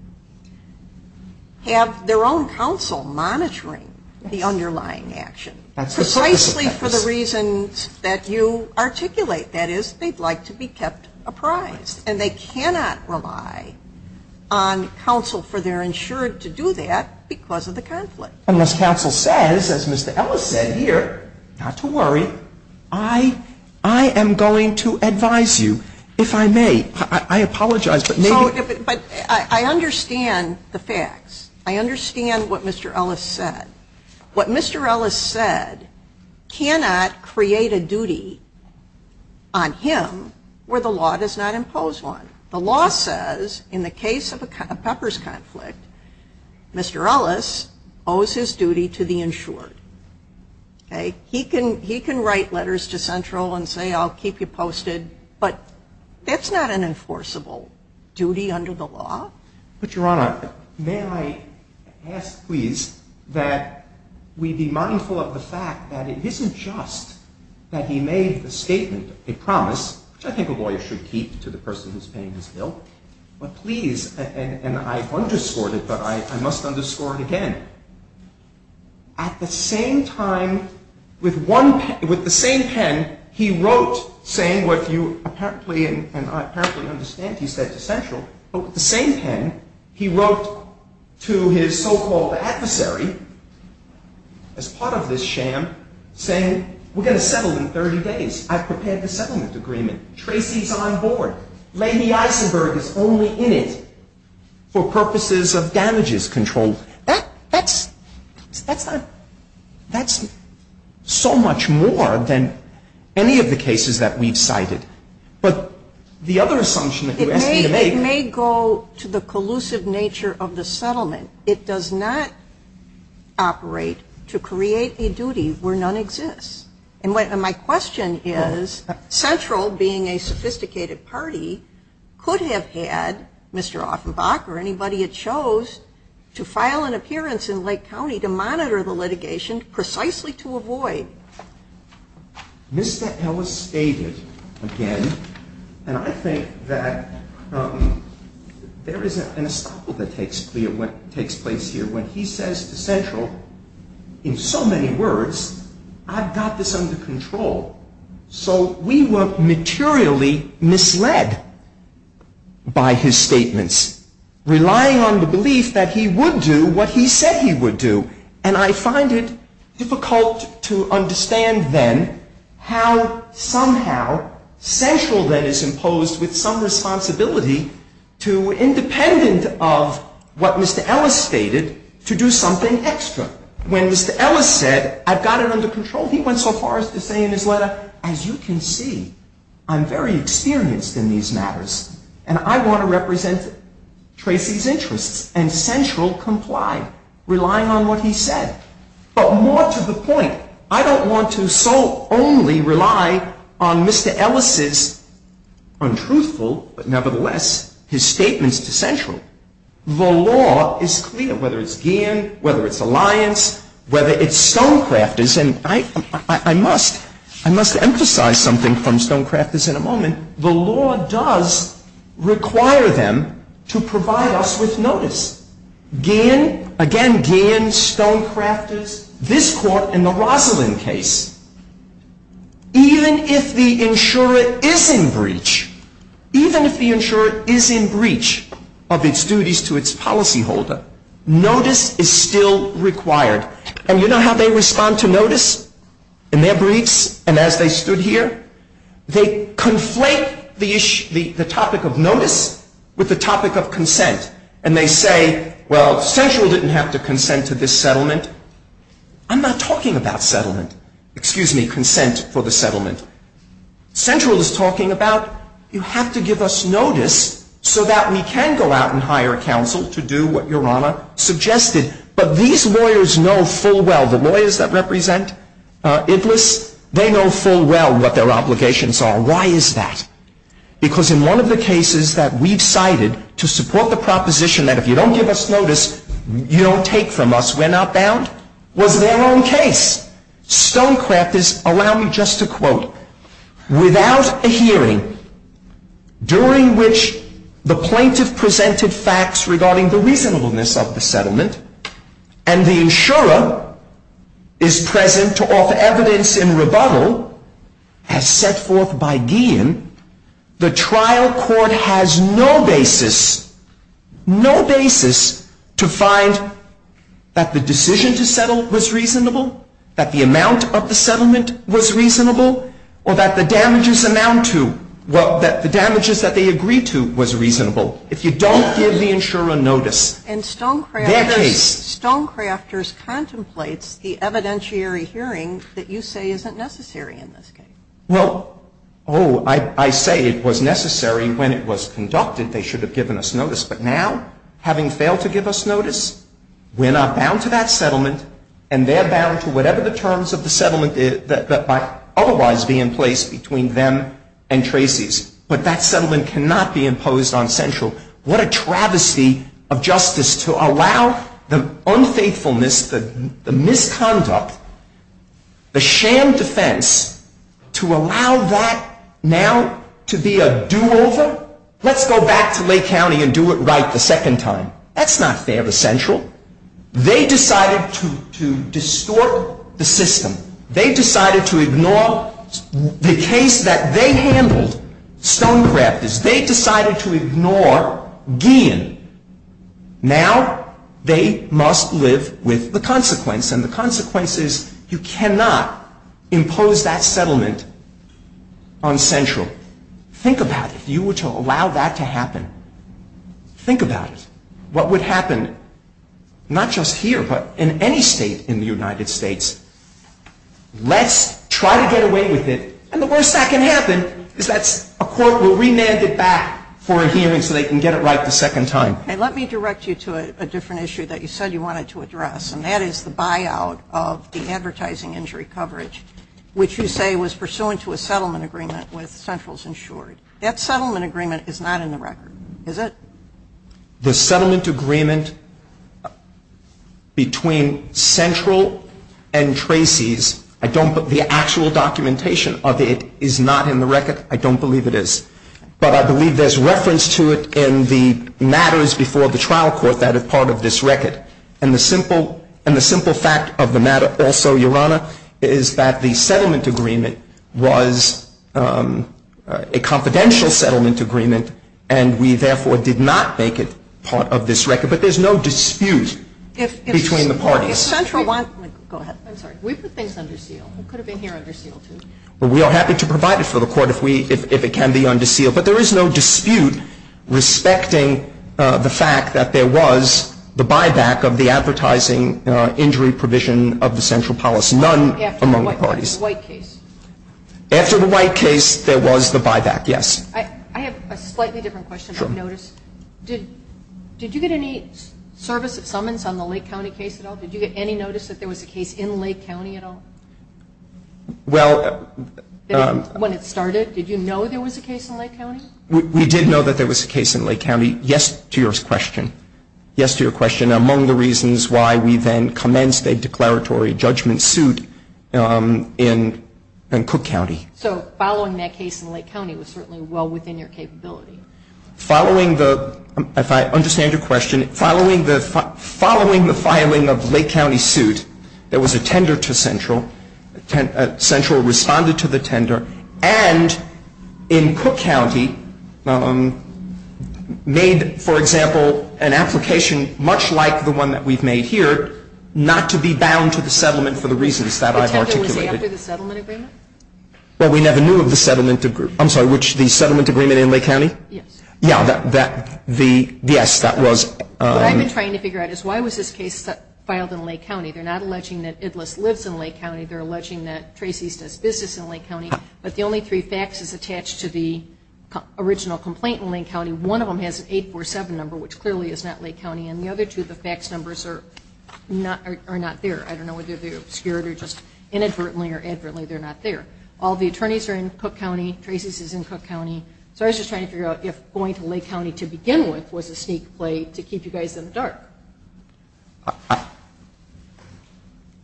They have their own counsel monitoring the underlying action, precisely for the reasons that you articulate. That is, they'd like to be kept apprised and they cannot rely on counsel for their insurer to do that because of the conflict. And as counsel says, as Mr. Ellis said here, not to worry, I apologize, but maybe- I understand the facts. I understand what Mr. Ellis said. What Mr. Ellis said cannot create a duty on him where the law does not impose one. The law says, in the case of a peppers conflict, Mr. Ellis owes his duty to the insurer. He can write letters to Central and say, I'll keep you posted, but that's not an enforceable duty under the law. But, Your Honor, may I ask, please, that we be mindful of the fact that it isn't just that he made a statement, a promise, which I think a lawyer should keep to the person who's paying his bill, but please, and I underscored it, but I must underscore it again, at the same time, with the same pen, he wrote saying what you apparently, and I apparently understand he said to Central, but at the same time, he wrote to his so-called adversary, as part of this sham, saying, we're going to settle in 30 days. I've prepared the settlement agreement. Tracy's on board. Lady Eisenberg is only in it for purposes of damages control. That's so much more than any of the cases that we've cited. But the other assumption... It may go to the collusive nature of the settlement. It does not operate to create a duty where none exists. And my question is, Central, being a sophisticated party, could have had Mr. Offenbach or anybody he chose to file an appearance in Lake County to monitor the litigation precisely to avoid. Mr. Ellis stated again, and I think that there is an estoppel that takes place here when he says to Central, in so many words, I've got this under control. So we were materially misled by his statements, relying on the belief that he would do what he said he would do. And I find it difficult to understand then how somehow Central then is imposed with some responsibility to, independent of what Mr. Ellis stated, to do something extra. When Mr. Ellis said, I've got it under control, he went so far as to say in his letter, as you can see, I'm very experienced in these matters, and I want to represent Tracy's interests. And Central complied, relying on what he said. But more to the point, I don't want to so only rely on Mr. Ellis's untruthful, but nevertheless, his statements to Central. The law is clear, whether it's Gein, whether it's Alliance, whether it's Stonecrafters, and I must emphasize something from Stonecrafters in a moment. The law does require them to provide us with notice. Again, Gein, Stonecrafters, this court, and the Rosalind case. Even if the insurer is in breach, even if the insurer is in breach of its duties to its policyholder, notice is still required. And you know how they respond to notice? In their briefs, and as they stood here? They conflate the topic of notice with the topic of consent. And they say, well, Central didn't have to consent to this settlement. I'm not talking about settlement. Excuse me, consent for the settlement. Central is talking about, you have to give us notice so that we can go out and hire a counsel to do what Your Honor suggested. But these lawyers know full well, the lawyers that represent Iblis, they know full well what their obligations are. Why is that? Because in one of the cases that we've cited to support the proposition that if you don't give us notice, you don't take from us, we're not bound, was their own case. Stonecrafters allow me just to quote, Without a hearing, during which the plaintiff presented facts regarding the reasonableness of the settlement, and the insurer is present to offer evidence in rebuttal, as set forth by Guillen, the trial court has no basis, no basis to find that the decision to settle was reasonable, that the amount of the settlement was reasonable, or that the damages amount to, that the damages that they agreed to was reasonable, if you don't give the insurer notice. And Stonecrafters contemplates the evidentiary hearings that you say isn't necessary in this case. Well, oh, I say it was necessary when it was conducted, they should have given us notice. But now, having failed to give us notice, we're not bound to that settlement, and they're bound to whatever the terms of the settlement is that might otherwise be in place between them and Tracy's. But that settlement cannot be imposed on Central. What a travesty of justice to allow the unfaithfulness, the misconduct, the sham defense, to allow that now to be a do-over? Let's go back to Lake County and do it right the second time. That's not fair to Central. They decided to distort the system. They decided to ignore the case that they handled, Stonecrafters. They decided to ignore Guillen. Now they must live with the consequence, and the consequence is you cannot impose that settlement on Central. Think about it. If you were to allow that to happen, think about it. What would happen, not just here, but in any state in the United States? Let's try to get away with it, and the worst that can happen is that a court will remand it back for a hearing so they can get it right the second time. Let me direct you to a different issue that you said you wanted to address, and that is the buyout of the advertising injury coverage, which you say was pursuant to a settlement agreement with Central's insurance. That settlement agreement is not in the record, is it? The settlement agreement between Central and Tracy's, the actual documentation of it is not in the record. I don't believe it is, but I believe there's reference to it in the matters before the trial court that are part of this record, and the simple fact of the matter also, Your Honor, is that the settlement agreement was a confidential settlement agreement, and we therefore did not make it part of this record, but there's no dispute between the parties. If Central wants it, go ahead. I'm sorry. We put things under seal. It could have been here under seal, too. We are happy to provide it for the court if it can be under seal, but there is no dispute respecting the fact that there was the buyback of the Answer the white case. Answer the white case, there was the buyback, yes. I have a slightly different question. Did you get any service at Summons on the Lake County case at all? Did you get any notice that there was a case in Lake County at all? When it started, did you know there was a case in Lake County? We did know that there was a case in Lake County, yes to your question. Yes to your question. Among the reasons why we then commenced a declaratory judgment suit in Cook County. So following that case in Lake County was certainly well within your capability. Following the, if I understand your question, following the filing of Lake County's suit, there was a tender to Central. Central responded to the tender and in Cook County made, for example, an application much like the one that we've made here, not to be bound to the settlement for the reasons that I've articulated. Was there a settlement agreement? Well, we never knew of the settlement, I'm sorry, which the settlement agreement in Lake County? Yes. Yes, that was. What I've been trying to figure out is why was this case filed in Lake County? They're not alleging that Idlis lives in Lake County, they're alleging that Tracy's does business in Lake County, but the only three faxes attached to the original complaint in Lake County, one of them has an 847 number, which clearly is not Lake County, and the other two, the fax numbers are not there. I don't know whether they're obscured or just inadvertently or advertently they're not there. All the attorneys are in Cook County, Tracy's is in Cook County, so I was just trying to figure out if going to Lake County to begin with was a sneak play to keep you guys in the dark.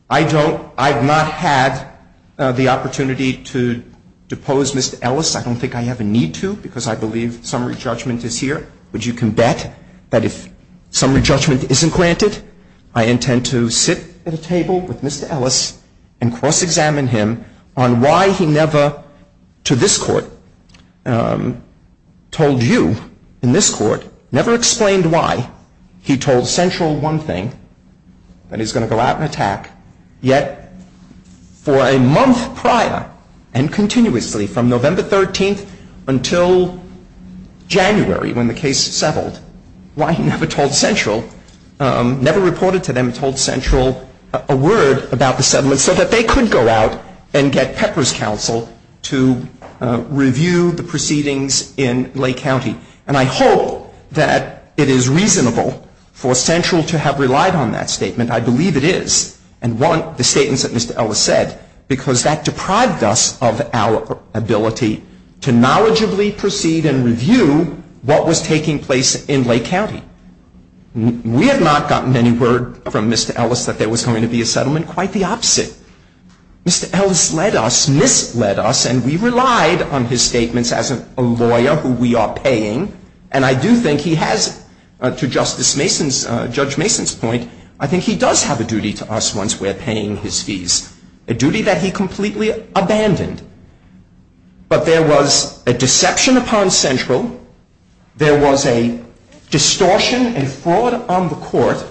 I've not had the opportunity to depose Mr. Ellis. I don't think I ever need to because I believe summary judgment is here, but you can bet that if summary judgment isn't granted, I intend to sit at a table with Mr. Ellis and cross-examine him on why he never, to this court, told you, in this court, never explained why he told Central one thing, that he's going to go out and attack, yet for a month prior, and continuously from November 13th until January when the case settled, why he never told Central, never reported to them, told Central a word about the settlement so that they could go out and get Pepper's counsel to review the proceedings in Lake County. And I hope that it is reasonable for Central to have relied on that statement. I believe it is, and want the statements that Mr. Ellis said, because that deprived us of our ability to knowledgeably proceed and review what was taking place in Lake County. We have not gotten any word from Mr. Ellis that there was going to be a settlement. Quite the opposite. Mr. Ellis led us, Smith led us, and we relied on his statements as a lawyer who we are paying, and I do think he has, to Judge Mason's point, I think he does have a duty to us once we're paying his fees, a duty that he completely abandoned. But there was a deception upon Central, there was a distortion and fraud on the court,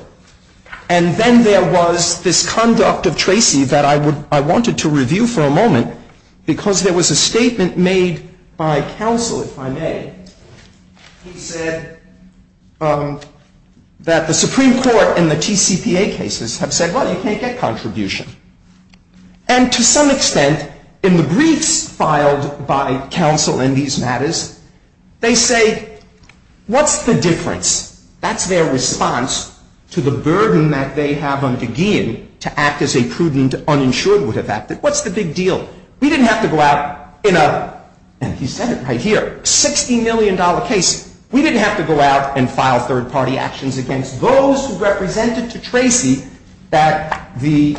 and then there was this conduct of Tracy that I wanted to review for a moment, because there was a statement made by counsel, if I may, who said that the Supreme Court and the TCPA cases have said, well, you can't get contribution. And to some extent, in the briefs filed by counsel in these matters, they say, what's the difference? That's their response to the burden that they have on Gideon to act as a prudent uninsured would have acted. What's the big deal? We didn't have to go out in a, and he said it right here, $60 million case. We didn't have to go out and file third-party actions against those who represented to Tracy that the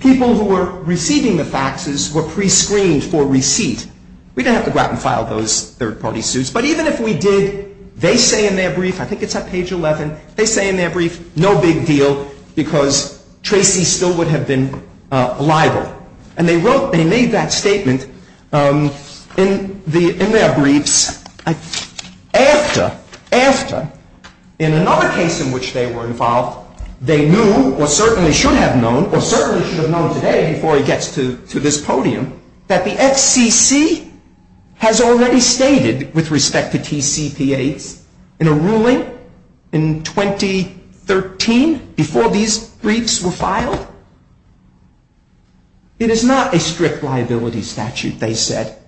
people who were receiving the faxes were prescreened for receipt. We didn't have to go out and file those third-party suits, but even if we did, they say in their brief, I think it's on page 11, they say in their brief, no big deal, because Tracy still would have been liable. And they made that statement in their briefs after, in another case in which they were involved, they knew, or certainly should have known, or certainly should have known today before it gets to this podium, that the FCC has already stated, with respect to TCPAs, in a ruling in 2013, before these briefs were filed, it is not a strict liability statute, they said.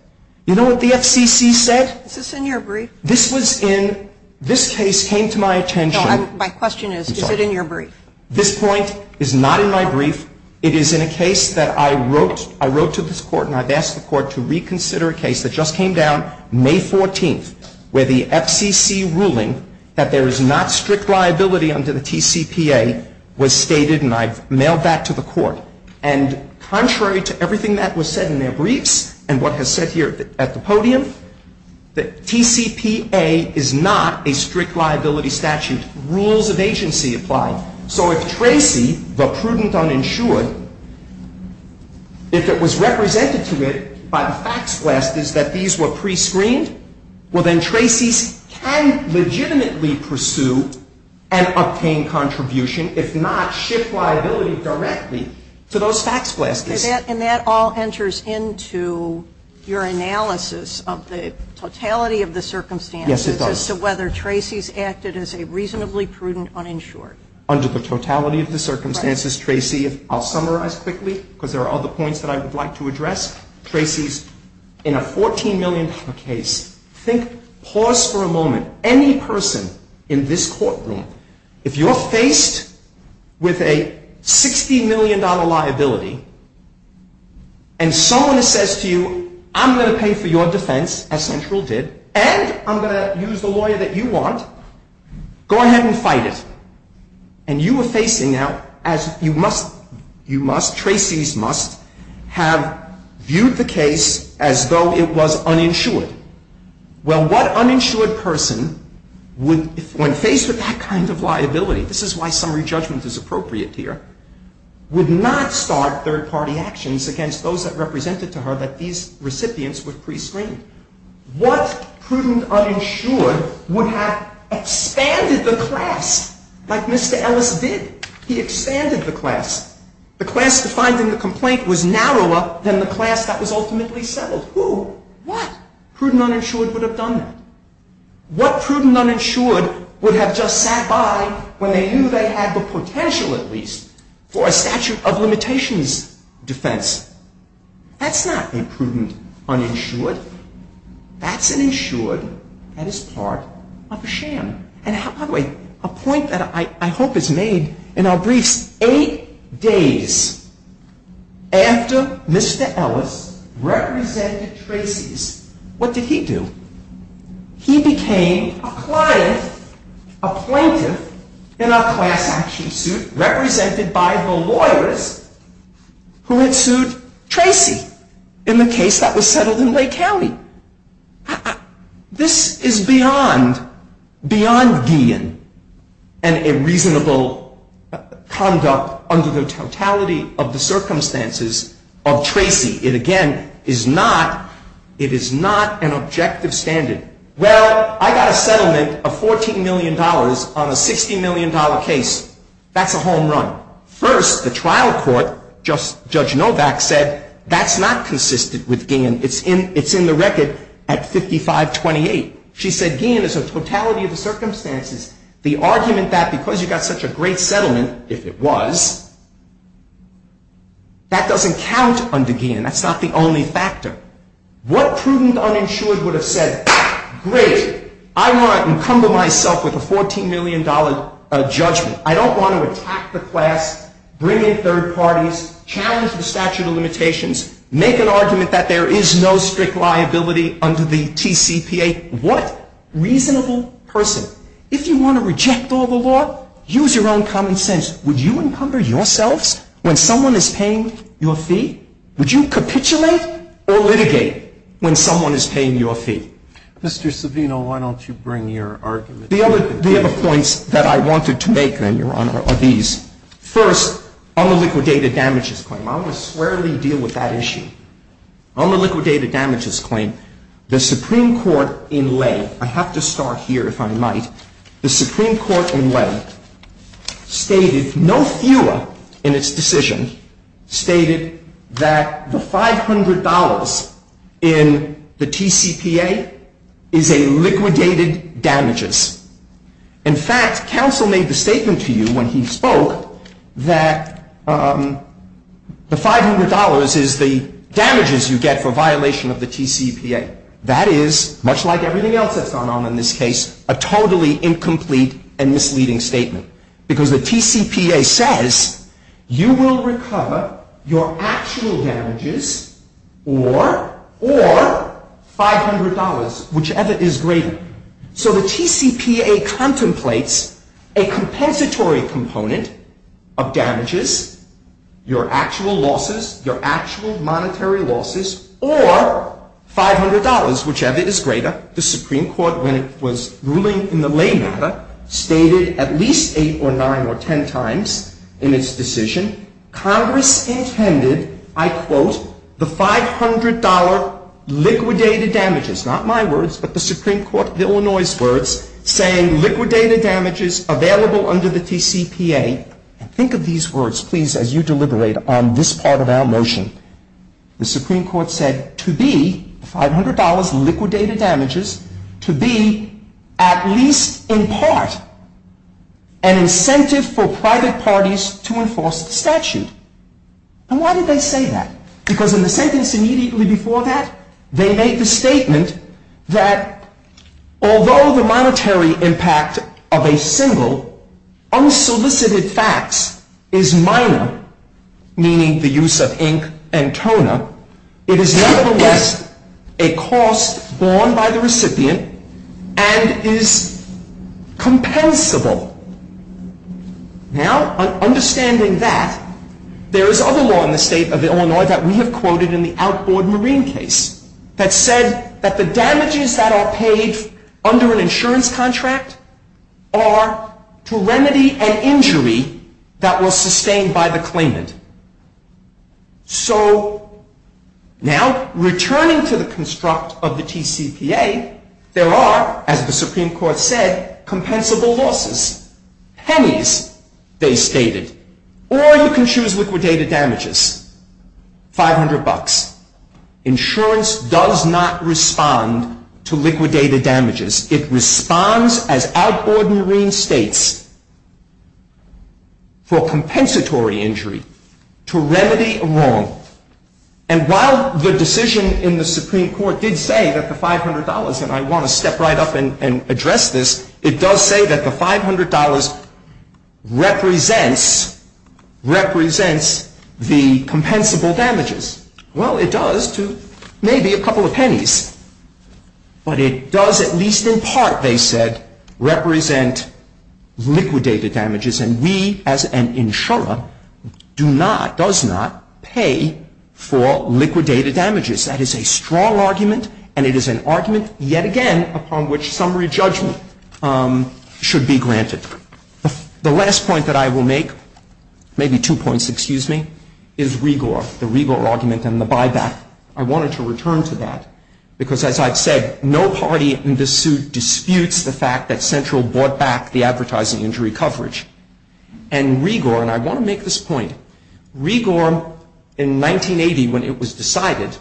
You know what the FCC said? Is this in your brief? This was in, this case came to my attention. My question is, is it in your brief? This point is not in my brief. It is in a case that I wrote to this court, and I've asked the court to reconsider a case that just came down May 14th, where the FCC ruling that there is not strict liability under the TCPA was stated, and I've mailed that to the court. And contrary to everything that was said in their briefs, and what was said here at the podium, the TCPA is not a strict liability statute. Rules of agency apply. So if Tracy, the prudent uninsured, if it was represented to it by fax blasters that these were prescreened, well then Tracy can legitimately pursue and obtain contribution, if not shift liabilities directly to those fax blasters. And that all enters into your analysis of the totality of the circumstances as to whether Tracy's acted as a reasonably prudent uninsured. Under the totality of the circumstances, Tracy, I'll summarize quickly, because there are other points that I would like to address. Tracy's in a $14 million case. Think, pause for a moment. Any person in this courtroom, if you're faced with a $60 million liability, and someone says to you, I'm going to pay for your defense, as Central did, and I'm going to use the lawyer that you want, go ahead and fight it. And you are facing that as you must, Tracy's must, have viewed the case as though it was uninsured. Well, what uninsured person, when faced with that kind of liability, this is why summary judgment is appropriate here, would not start third-party actions against those that represented to her that these recipients were prescreened. What prudent uninsured would have expanded the class like Mr. Ellis did? He expanded the class. The class defined in the complaint was narrower than the class that was ultimately settled. Who, what prudent uninsured would have done that? What prudent uninsured would have just sat by when they knew they had the potential, at least, for a statute of limitations defense? That's not a prudent uninsured. That's an insured that is part of a sham. And by the way, a point that I hope is made in our brief, eight days after Mr. Ellis represented Tracy's, what did he do? He became a client, a plaintiff, in our class action suit, represented by her lawyers who had sued Tracy in the case that was settled in Lake County. This is beyond being an unreasonable conduct under the totality of the circumstances of Tracy. It, again, is not an objective standard. Well, I got a settlement of $14 million on a $60 million case. That's a home run. First, the trial court, Judge Novak, said that's not consistent with Guillen. It's in the record at 55-28. She said Guillen is a totality of the circumstances. The argument that because you got such a great settlement, if it was, that doesn't count under Guillen. That's not the only factor. What prudent uninsured would have said, great, I want to encumber myself with a $14 million judgment. I don't want to attack the class, bring in third parties, challenge the statute of limitations, make an argument that there is no strict liability under the TCPA. What reasonable person? If you want to reject all the law, use your own common sense. Would you encumber yourselves when someone is paying your fee? Would you capitulate or litigate when someone is paying your fee? Mr. Savino, why don't you bring your argument? The other points that I wanted to make, Your Honor, are these. First, on the liquidated damages claim. I'm going to squarely deal with that issue. On the liquidated damages claim, the Supreme Court in lay, I have to start here if I might, the Supreme Court in lay stated no fewer in its decision stated that the $500 in the TCPA is a liquidated damages. In fact, counsel made the statement to you when he spoke that the $500 is the damages you get for violation of the TCPA. That is, much like everything else that's gone on in this case, a totally incomplete and misleading statement. Because the TCPA says you will recover your actual damages or $500, whichever is greater. So the TCPA contemplates a compensatory component of damages, your actual losses, your actual monetary losses, or $500, whichever is greater. The Supreme Court when it was ruling in the lay matter stated at least eight or nine or ten times in its decision, Congress intended, I quote, the $500 liquidated damages, not my words, but the Supreme Court of Illinois' words, saying liquidated damages available under the TCPA. Think of these words, please, as you deliberate on this part of our motion. The Supreme Court said to be $500 liquidated damages, to be at least in part an incentive for private parties to enforce the statute. And why did they say that? Because in the sentence immediately before that, they made the statement that although the monetary impact of a single unsolicited fact is minor, meaning the use of ink and toner, it is nevertheless a cost borne by the recipient and is compensable. Now, understanding that, there is other law in the state of Illinois that we have quoted in the outboard marine case that said that the damages that are paid under an insurance contract are to remedy an injury that was sustained by the claimant. So, now, returning to the construct of the TCPA, there are, as the Supreme Court said, compensable losses. Pennies, they stated. Or you can choose liquidated damages, $500. Insurance does not respond to liquidated damages. It responds, as outboard marine states, for compensatory injury to remedy a wrong. And while the decision in the Supreme Court did say that the $500, and I want to step right up and address this, it does say that the $500 represents the compensable damages. Well, it does to maybe a couple of pennies. But it does, at least in part, they said, represent liquidated damages. And we, as an insurer, do not, does not pay for liquidated damages. That is a strong argument, and it is an argument, yet again, upon which summary judgment should be granted. The last point that I will make, maybe two points, excuse me, is REGOR, the REGOR argument and the buyback. I wanted to return to that because, as I've said, no party in this suit disputes the fact that Central bought back the advertising injury coverage. And REGOR, and I want to make this point, REGOR in 1980, when it was decided,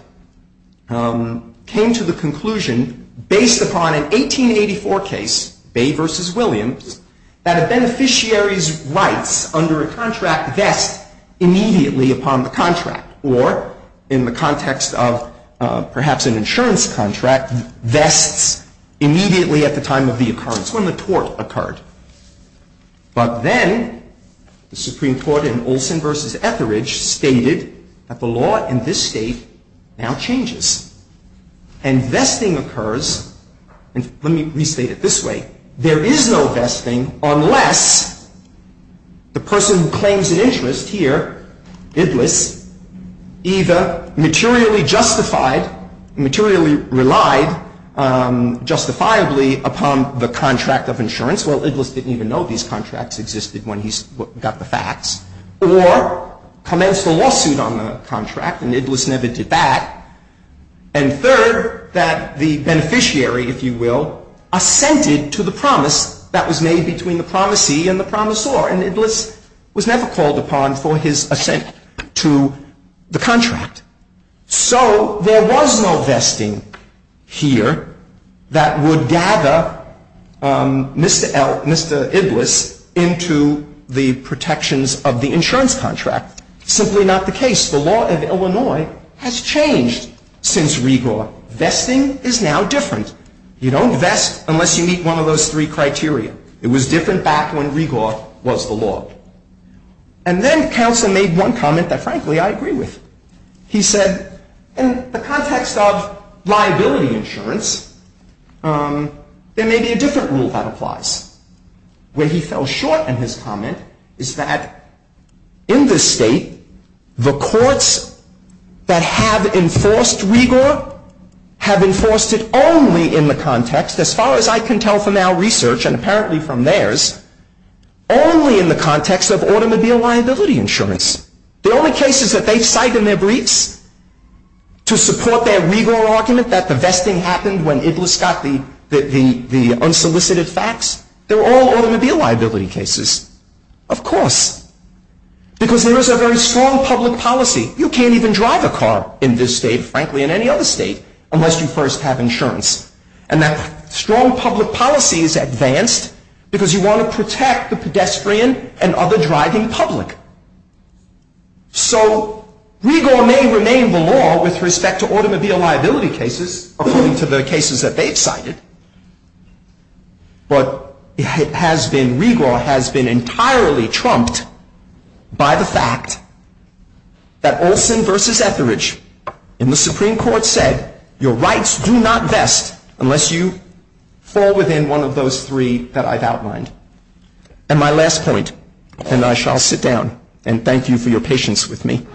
came to the conclusion, based upon an 1884 case, Bay v. Williams, that a beneficiary's rights under a contract get immediately upon the contract. Or, in the context of perhaps an insurance contract, that immediately at the time of the occurrence, when the tort occurred. But then, the Supreme Court in Olson v. Etheridge stated that the law in this state now changes. And vesting occurs, and let me restate it this way, there is no vesting unless the person who claims an interest here, Idlis, either materially justified, materially relied justifiably upon the contract of insurance, well, Idlis didn't even know these contracts existed when he got the facts, or commenced a lawsuit on the contract, and Idlis never did that, and third, that the beneficiary, if you will, assented to the promise that was made between the promisee and the promisor, and Idlis was never called upon for his assent to the contract. So, there was no vesting here that would gather Mr. Idlis into the protections of the insurance contract. Now, simply not the case. The law of Illinois has changed since Regor. Vesting is now different. You don't vest unless you meet one of those three criteria. It was different back when Regor was the law. And then, counsel made one comment that, frankly, I agree with. He said, in the context of liability insurance, there may be a different rule that applies. Where he fell short in his comment is that, in this state, the courts that have enforced Regor have enforced it only in the context, as far as I can tell from our research, and apparently from theirs, only in the context of automobile liability insurance. The only cases that they cite in their briefs to support their Regor argument, that the vesting happened when Idlis got the unsolicited fax, they're all automobile liability cases. Of course. Because there is a very strong public policy. You can't even drive a car in this state, frankly, in any other state, unless you first have insurance. And that strong public policy is advanced because you want to protect the pedestrian and other driving public. So, Regor may remain the law with respect to automobile liability cases, according to the cases that they've cited, but Regor has been entirely trumped by the fact that Olson v. Etheridge in the Supreme Court said, your rights do not vest unless you fall within one of those three that I've outlined. And my last point, and I shall sit down, and thank you for your patience with me.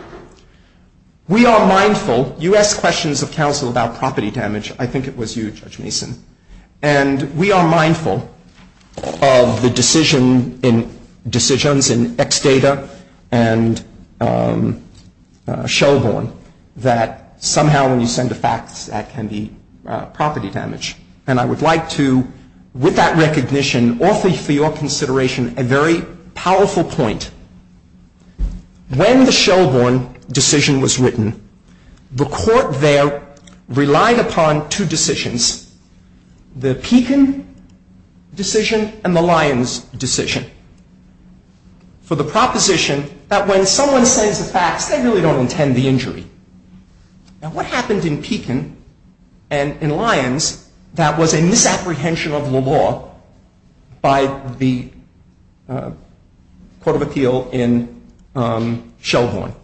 We are mindful, you asked questions of counsel about property damage, I think it was you, Judge Mason, and we are mindful of the decisions in Ex Data and Shellhorn that somehow when you send a fax that can be property damage. And I would like to, with that recognition, awfully for your consideration, a very powerful point. When the Shellhorn decision was written, the court there relied upon two decisions, the Peton decision and the Lyons decision, for the proposition that when someone sends a fax, they really don't intend the injury. And what happened in Peton and in Lyons, that was a misapprehension of the law by the Court of Appeal in Shellhorn.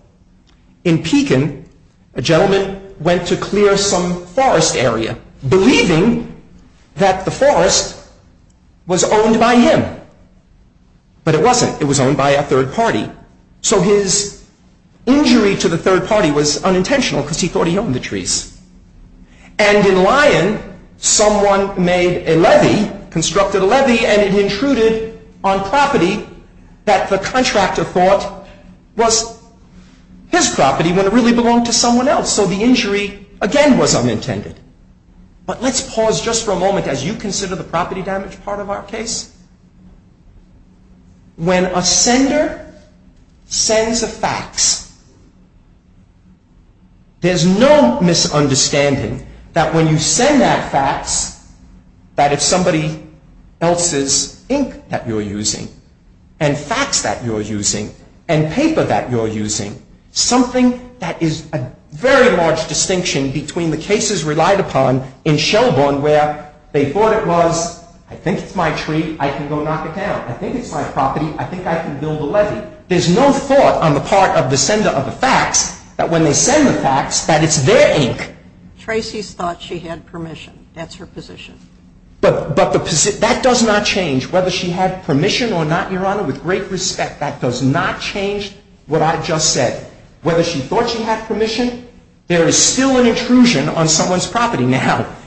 In Peton, a gentleman went to clear some forest area, believing that the forest was owned by him. But it wasn't, it was owned by a third party. So his injury to the third party was unintentional because he thought he owned the trees. And in Lyons, someone made a levy, constructed a levy, and it intruded on property that the contractor thought was his property, when it really belonged to someone else. So the injury, again, was unintended. But let's pause just for a moment, as you consider the property damage part of our case. When a sender sends a fax, there's no misunderstanding that when you send that fax, that it's somebody else's ink that you're using, and fax that you're using, and paper that you're using. Something that is a very large distinction between the cases relied upon in Shellhorn, where they thought it was, I think it's my tree. I can go knock it down. I think it's my property. I think I can build a levy. There's no thought on the part of the sender of the fax that when they send the fax, that it's their ink. Tracy thought she had permission. That's her position. But that does not change. Whether she had permission or not, Your Honor, with great respect, that does not change what I just said. Whether she thought she had permission, there is still an intrusion on someone's property.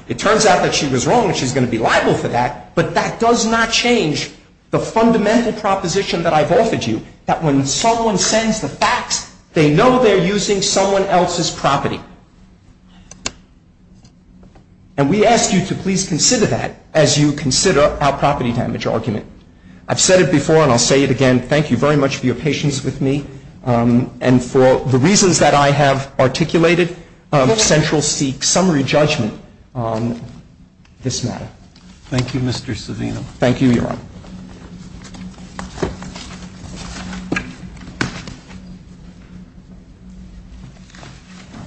It turns out that she was wrong, and she's going to be liable for that, but that does not change the fundamental proposition that I've offered you, that when someone sends the fax, they know they're using someone else's property. And we ask you to please consider that as you consider our property damage argument. I've said it before and I'll say it again. Thank you very much for your patience with me and for the reasons that I have articulated. Central seeks summary judgment on this matter. Thank you, Mr. Savino. Thank you, Your Honor.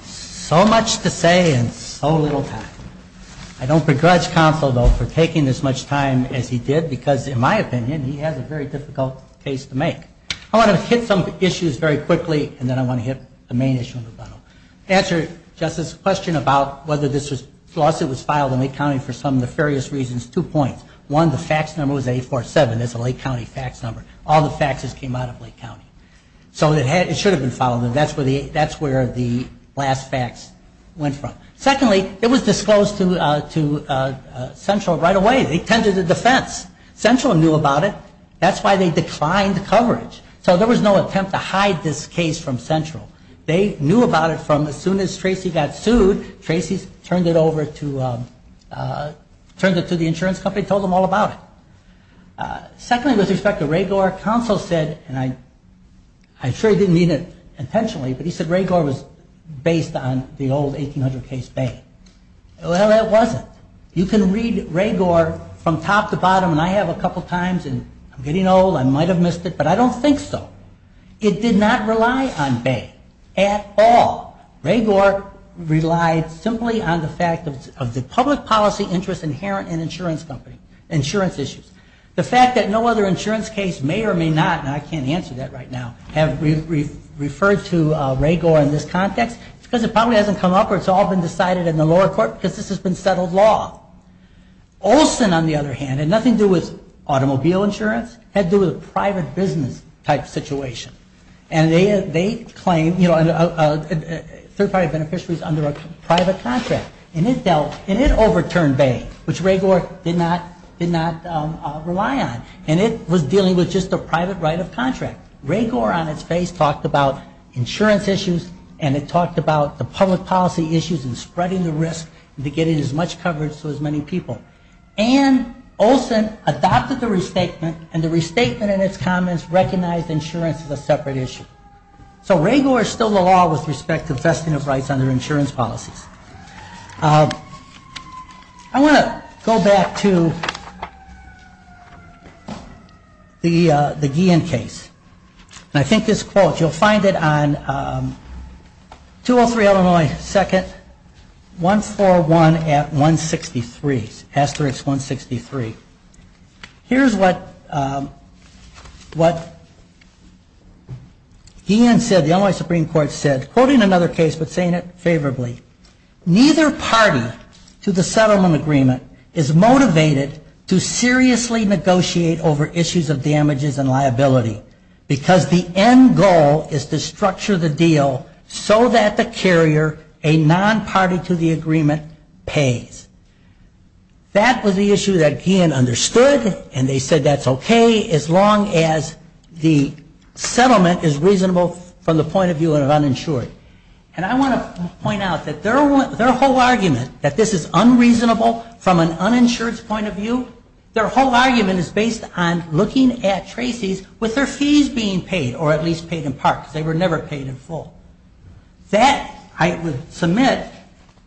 So much to say and so little to ask. I don't begrudge Counsel, though, for taking as much time as he did because, in my opinion, he has a very difficult case to make. I want to hit some issues very quickly, and then I want to hit the main issue. To answer Justice's question about whether this lawsuit was filed in Lake County for some nefarious reasons, two points. One, the fax number was 847. That's a Lake County fax number. All the faxes came out of Lake County. So it should have been filed, and that's where the last fax went from. Secondly, it was disclosed to Central right away. They attended the defense. Central knew about it. That's why they declined coverage. So there was no attempt to hide this case from Central. They knew about it from as soon as Tracy got sued, Tracy turned it over to the insurance company and told them all about it. Secondly, with respect to Ragor, Counsel said, and I'm sure he didn't mean it intentionally, but he said Ragor was based on the old 1800 case base. Well, that wasn't. You can read Ragor from top to bottom, and I have a couple times, and I'm getting old. I might have missed it, but I don't think so. It did not rely on base at all. Ragor relied simply on the fact of the public policy interest inherent in insurance issues. The fact that no other insurance case may or may not, and I can't answer that right now, have referred to Ragor in this context is because it probably hasn't come up Ragor is often decided in the lower court because the system settled law. Olson, on the other hand, had nothing to do with automobile insurance, had to do with private business type situations. And they claimed certified beneficiaries under a private contract. And it overturned base, which Ragor did not rely on. And it was dealing with just a private right of contract. Ragor, on its face, talked about insurance issues, and it talked about the public policy issues and spreading the risk to get as much coverage to as many people. And Olson adopted the restatement, and the restatement and its comments recognized insurance as a separate issue. So Ragor stole the law with respect to vested rights under insurance policies. I want to go back to the Guillen case. And I think this quote, you'll find it on 203 Illinois 2nd, 141 at 163, asterisk 163. Here's what Guillen said, the Illinois Supreme Court said, quoting another case but saying it favorably, neither party to the settlement agreement is motivated to seriously negotiate over issues of damages and liability because the end goal is to structure the deal so that the carrier, a non-party to the agreement, pays. That was the issue that Guillen understood, and they said that's okay as long as the settlement is reasonable from the point of view of uninsured. And I want to point out that their whole argument, that this is unreasonable from an uninsured's point of view, their whole argument is based on looking at Tracy's with their fees being paid, or at least paid in part because they were never paid in full. That, I submit,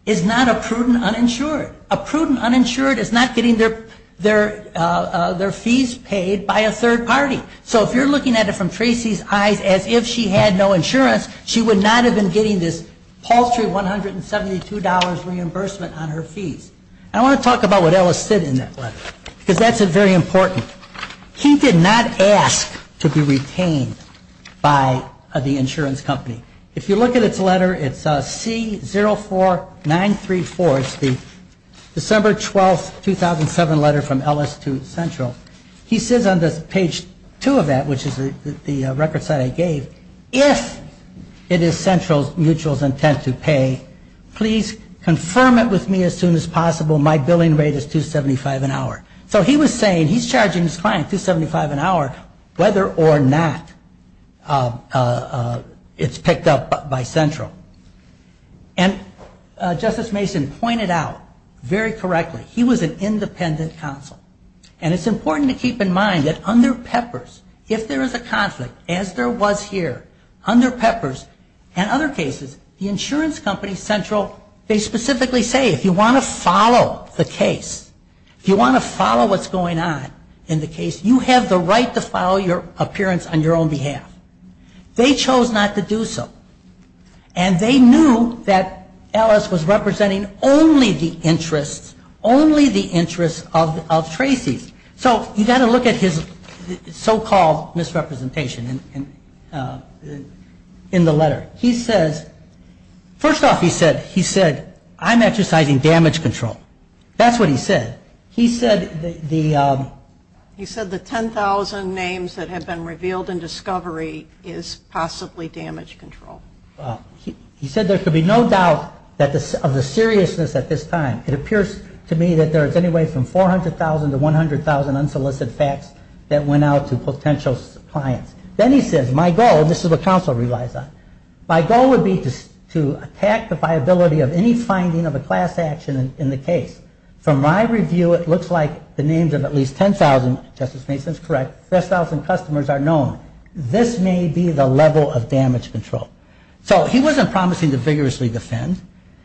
is not a prudent uninsured. A prudent uninsured is not getting their fees paid by a third party. So if you're looking at it from Tracy's eyes as if she had no insurance, she would not have been getting this paltry $172 reimbursement on her fees. I want to talk about what Ellis said in that letter because that's very important. He did not ask to be retained by the insurance company. If you look at his letter, it's C04934. It's the December 12, 2007 letter from Ellis to Central. He says on the page 2 of that, which is the record site I gave, if it is Central's mutual intensive pay, please confirm it with me as soon as possible. My billing rate is $275 an hour. So he was saying he's charging his client $275 an hour whether or not it's picked up by Central. And Justice Mason pointed out very correctly, he was an independent counsel. And it's important to keep in mind that under PEPRS, if there is a conflict, as there was here, under PEPRS and other cases, the insurance company Central, they specifically say if you want to follow the case, if you want to follow what's going on in the case, you have the right to follow your appearance on your own behalf. They chose not to do so. And they knew that Ellis was representing only the interests, only the interests of Tracy. So you've got to look at his so-called misrepresentation in the letter. First off, he said, I'm exercising damage control. That's what he said. He said the 10,000 names that have been revealed in discovery is possibly damage control. He said there could be no doubt of the seriousness at this time. It appears to me that there is anyway from 400,000 to 100,000 unsolicited facts that went out to potential clients. Then he said, my goal, and this is what counsel relies on, my goal would be to attack the viability of any finding of a class action in the case. From my review, it looks like the names of at least 10,000, Justice Mason is correct, 10,000 customers are known. This may be the level of damage control. So he wasn't promising to vigorously defend.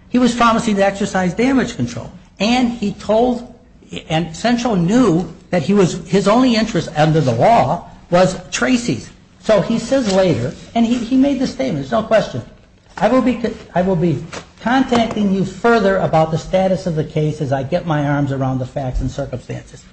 He was promising to exercise damage control. And Central knew that his only interest under the law was Tracy. So he says later, and he made the statement, there's no question, I will be contacting you further about the status of the case as I get my arms around the facts and circumstances.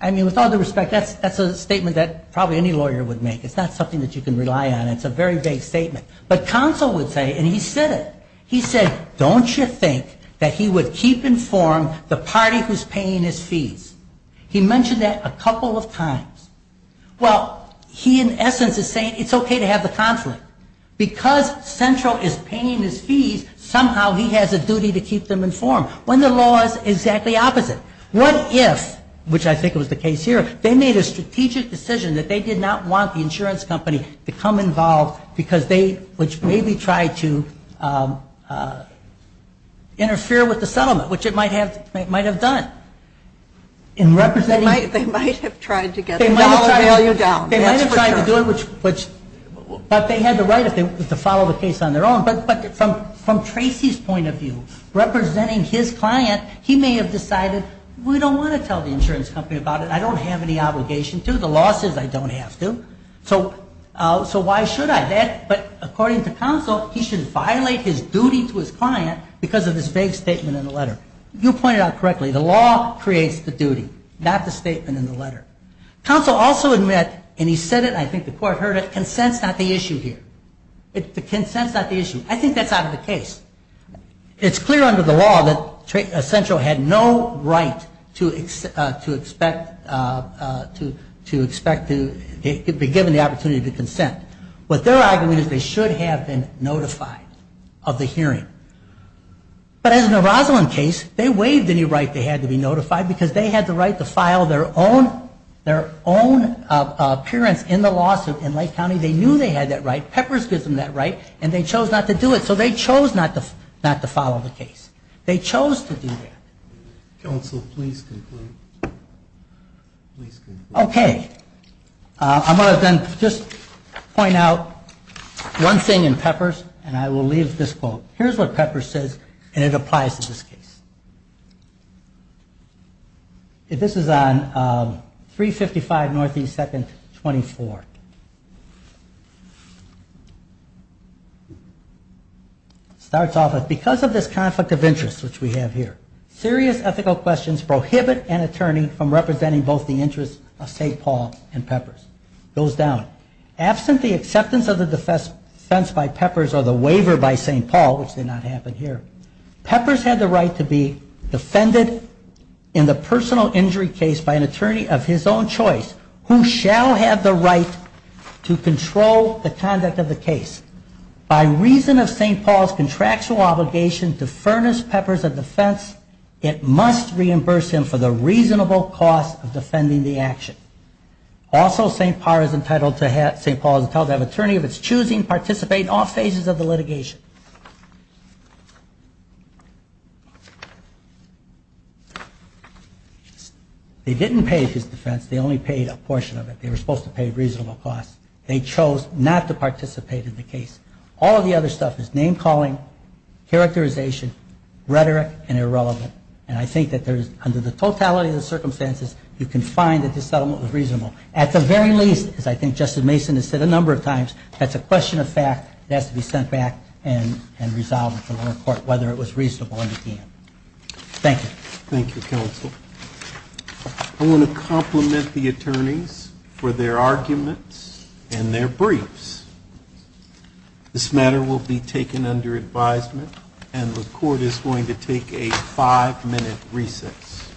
I mean, with all due respect, that's a statement that probably any lawyer would make. It's not something that you can rely on. It's a very vague statement. But counsel would say, and he said it, he said, Don't you think that he would keep informed the party who's paying his fees? He mentioned that a couple of times. Well, he in essence is saying it's okay to have a conflict. Because Central is paying his fees, somehow he has a duty to keep them informed, when the law is exactly opposite. What if, which I think was the case here, they made a strategic decision that they did not want the insurance company to come involved because they, which maybe tried to interfere with the settlement, which it might have done. They might have tried to get the alimony down. They might have tried to do it, but they had the right to follow the case on their own. But from Tracy's point of view, representing his client, he may have decided we don't want to tell the insurance company about it. I don't have any obligation to. The law says I don't have to. So why should I? But according to Council, he should violate his duty to his client because of the same statement in the letter. You pointed out correctly. The law creates the duty, not the statement in the letter. Council also admits, and he said it, I think the court heard it, consent's not the issue here. It's the consent's not the issue. I think that's not the case. It's clear under the law that Central had no right to expect to be given the opportunity to consent. What they're arguing is they should have been notified of the hearing. But in the Roslyn case, they waived any right they had to be notified because they had the right to file their own appearance in the lawsuit in Lake County. They knew they had that right. Peppers gave them that right, and they chose not to do it. So they chose not to follow the case. They chose to do that. Council, please conclude. Okay. I'm going to then just point out one thing in Peppers, and I will leave this quote. Here's what Peppers says, and it applies to this case. This is on 355 Northeast 2nd, 24. It starts off with, because of this conflict of interest, which we have here, serious ethical questions prohibit an attorney from representing both the interests of St. Paul and Peppers. It goes down. Absent the acceptance of the defense by Peppers or the waiver by St. Paul, which did not happen here, Peppers had the right to be defended in the personal injury case by an attorney of his own choice who shall have the right to control the conduct of the case. By reason of St. Paul's contractual obligation to furnish Peppers a defense, it must reimburse him for the reasonable cost of defending the action. Also, St. Paul is entitled to have an attorney of his choosing participate in all phases of the litigation. They didn't pay his defense. They only paid a portion of it. They were supposed to pay a reasonable cost. They chose not to participate in the case. All of the other stuff is name-calling, characterization, rhetoric, and irrelevant. And I think that there is, under the totality of the circumstances, you can find that this settlement was reasonable. At the very least, as I think Justice Mason has said a number of times, that's a question of fact that has to be sent back and resolved before the court, whether it was reasonable or not. Thank you. Thank you, counsel. I'm going to compliment the attorneys for their arguments and their briefs. This matter will be taken under advisement, and the court is going to take a five-minute recess.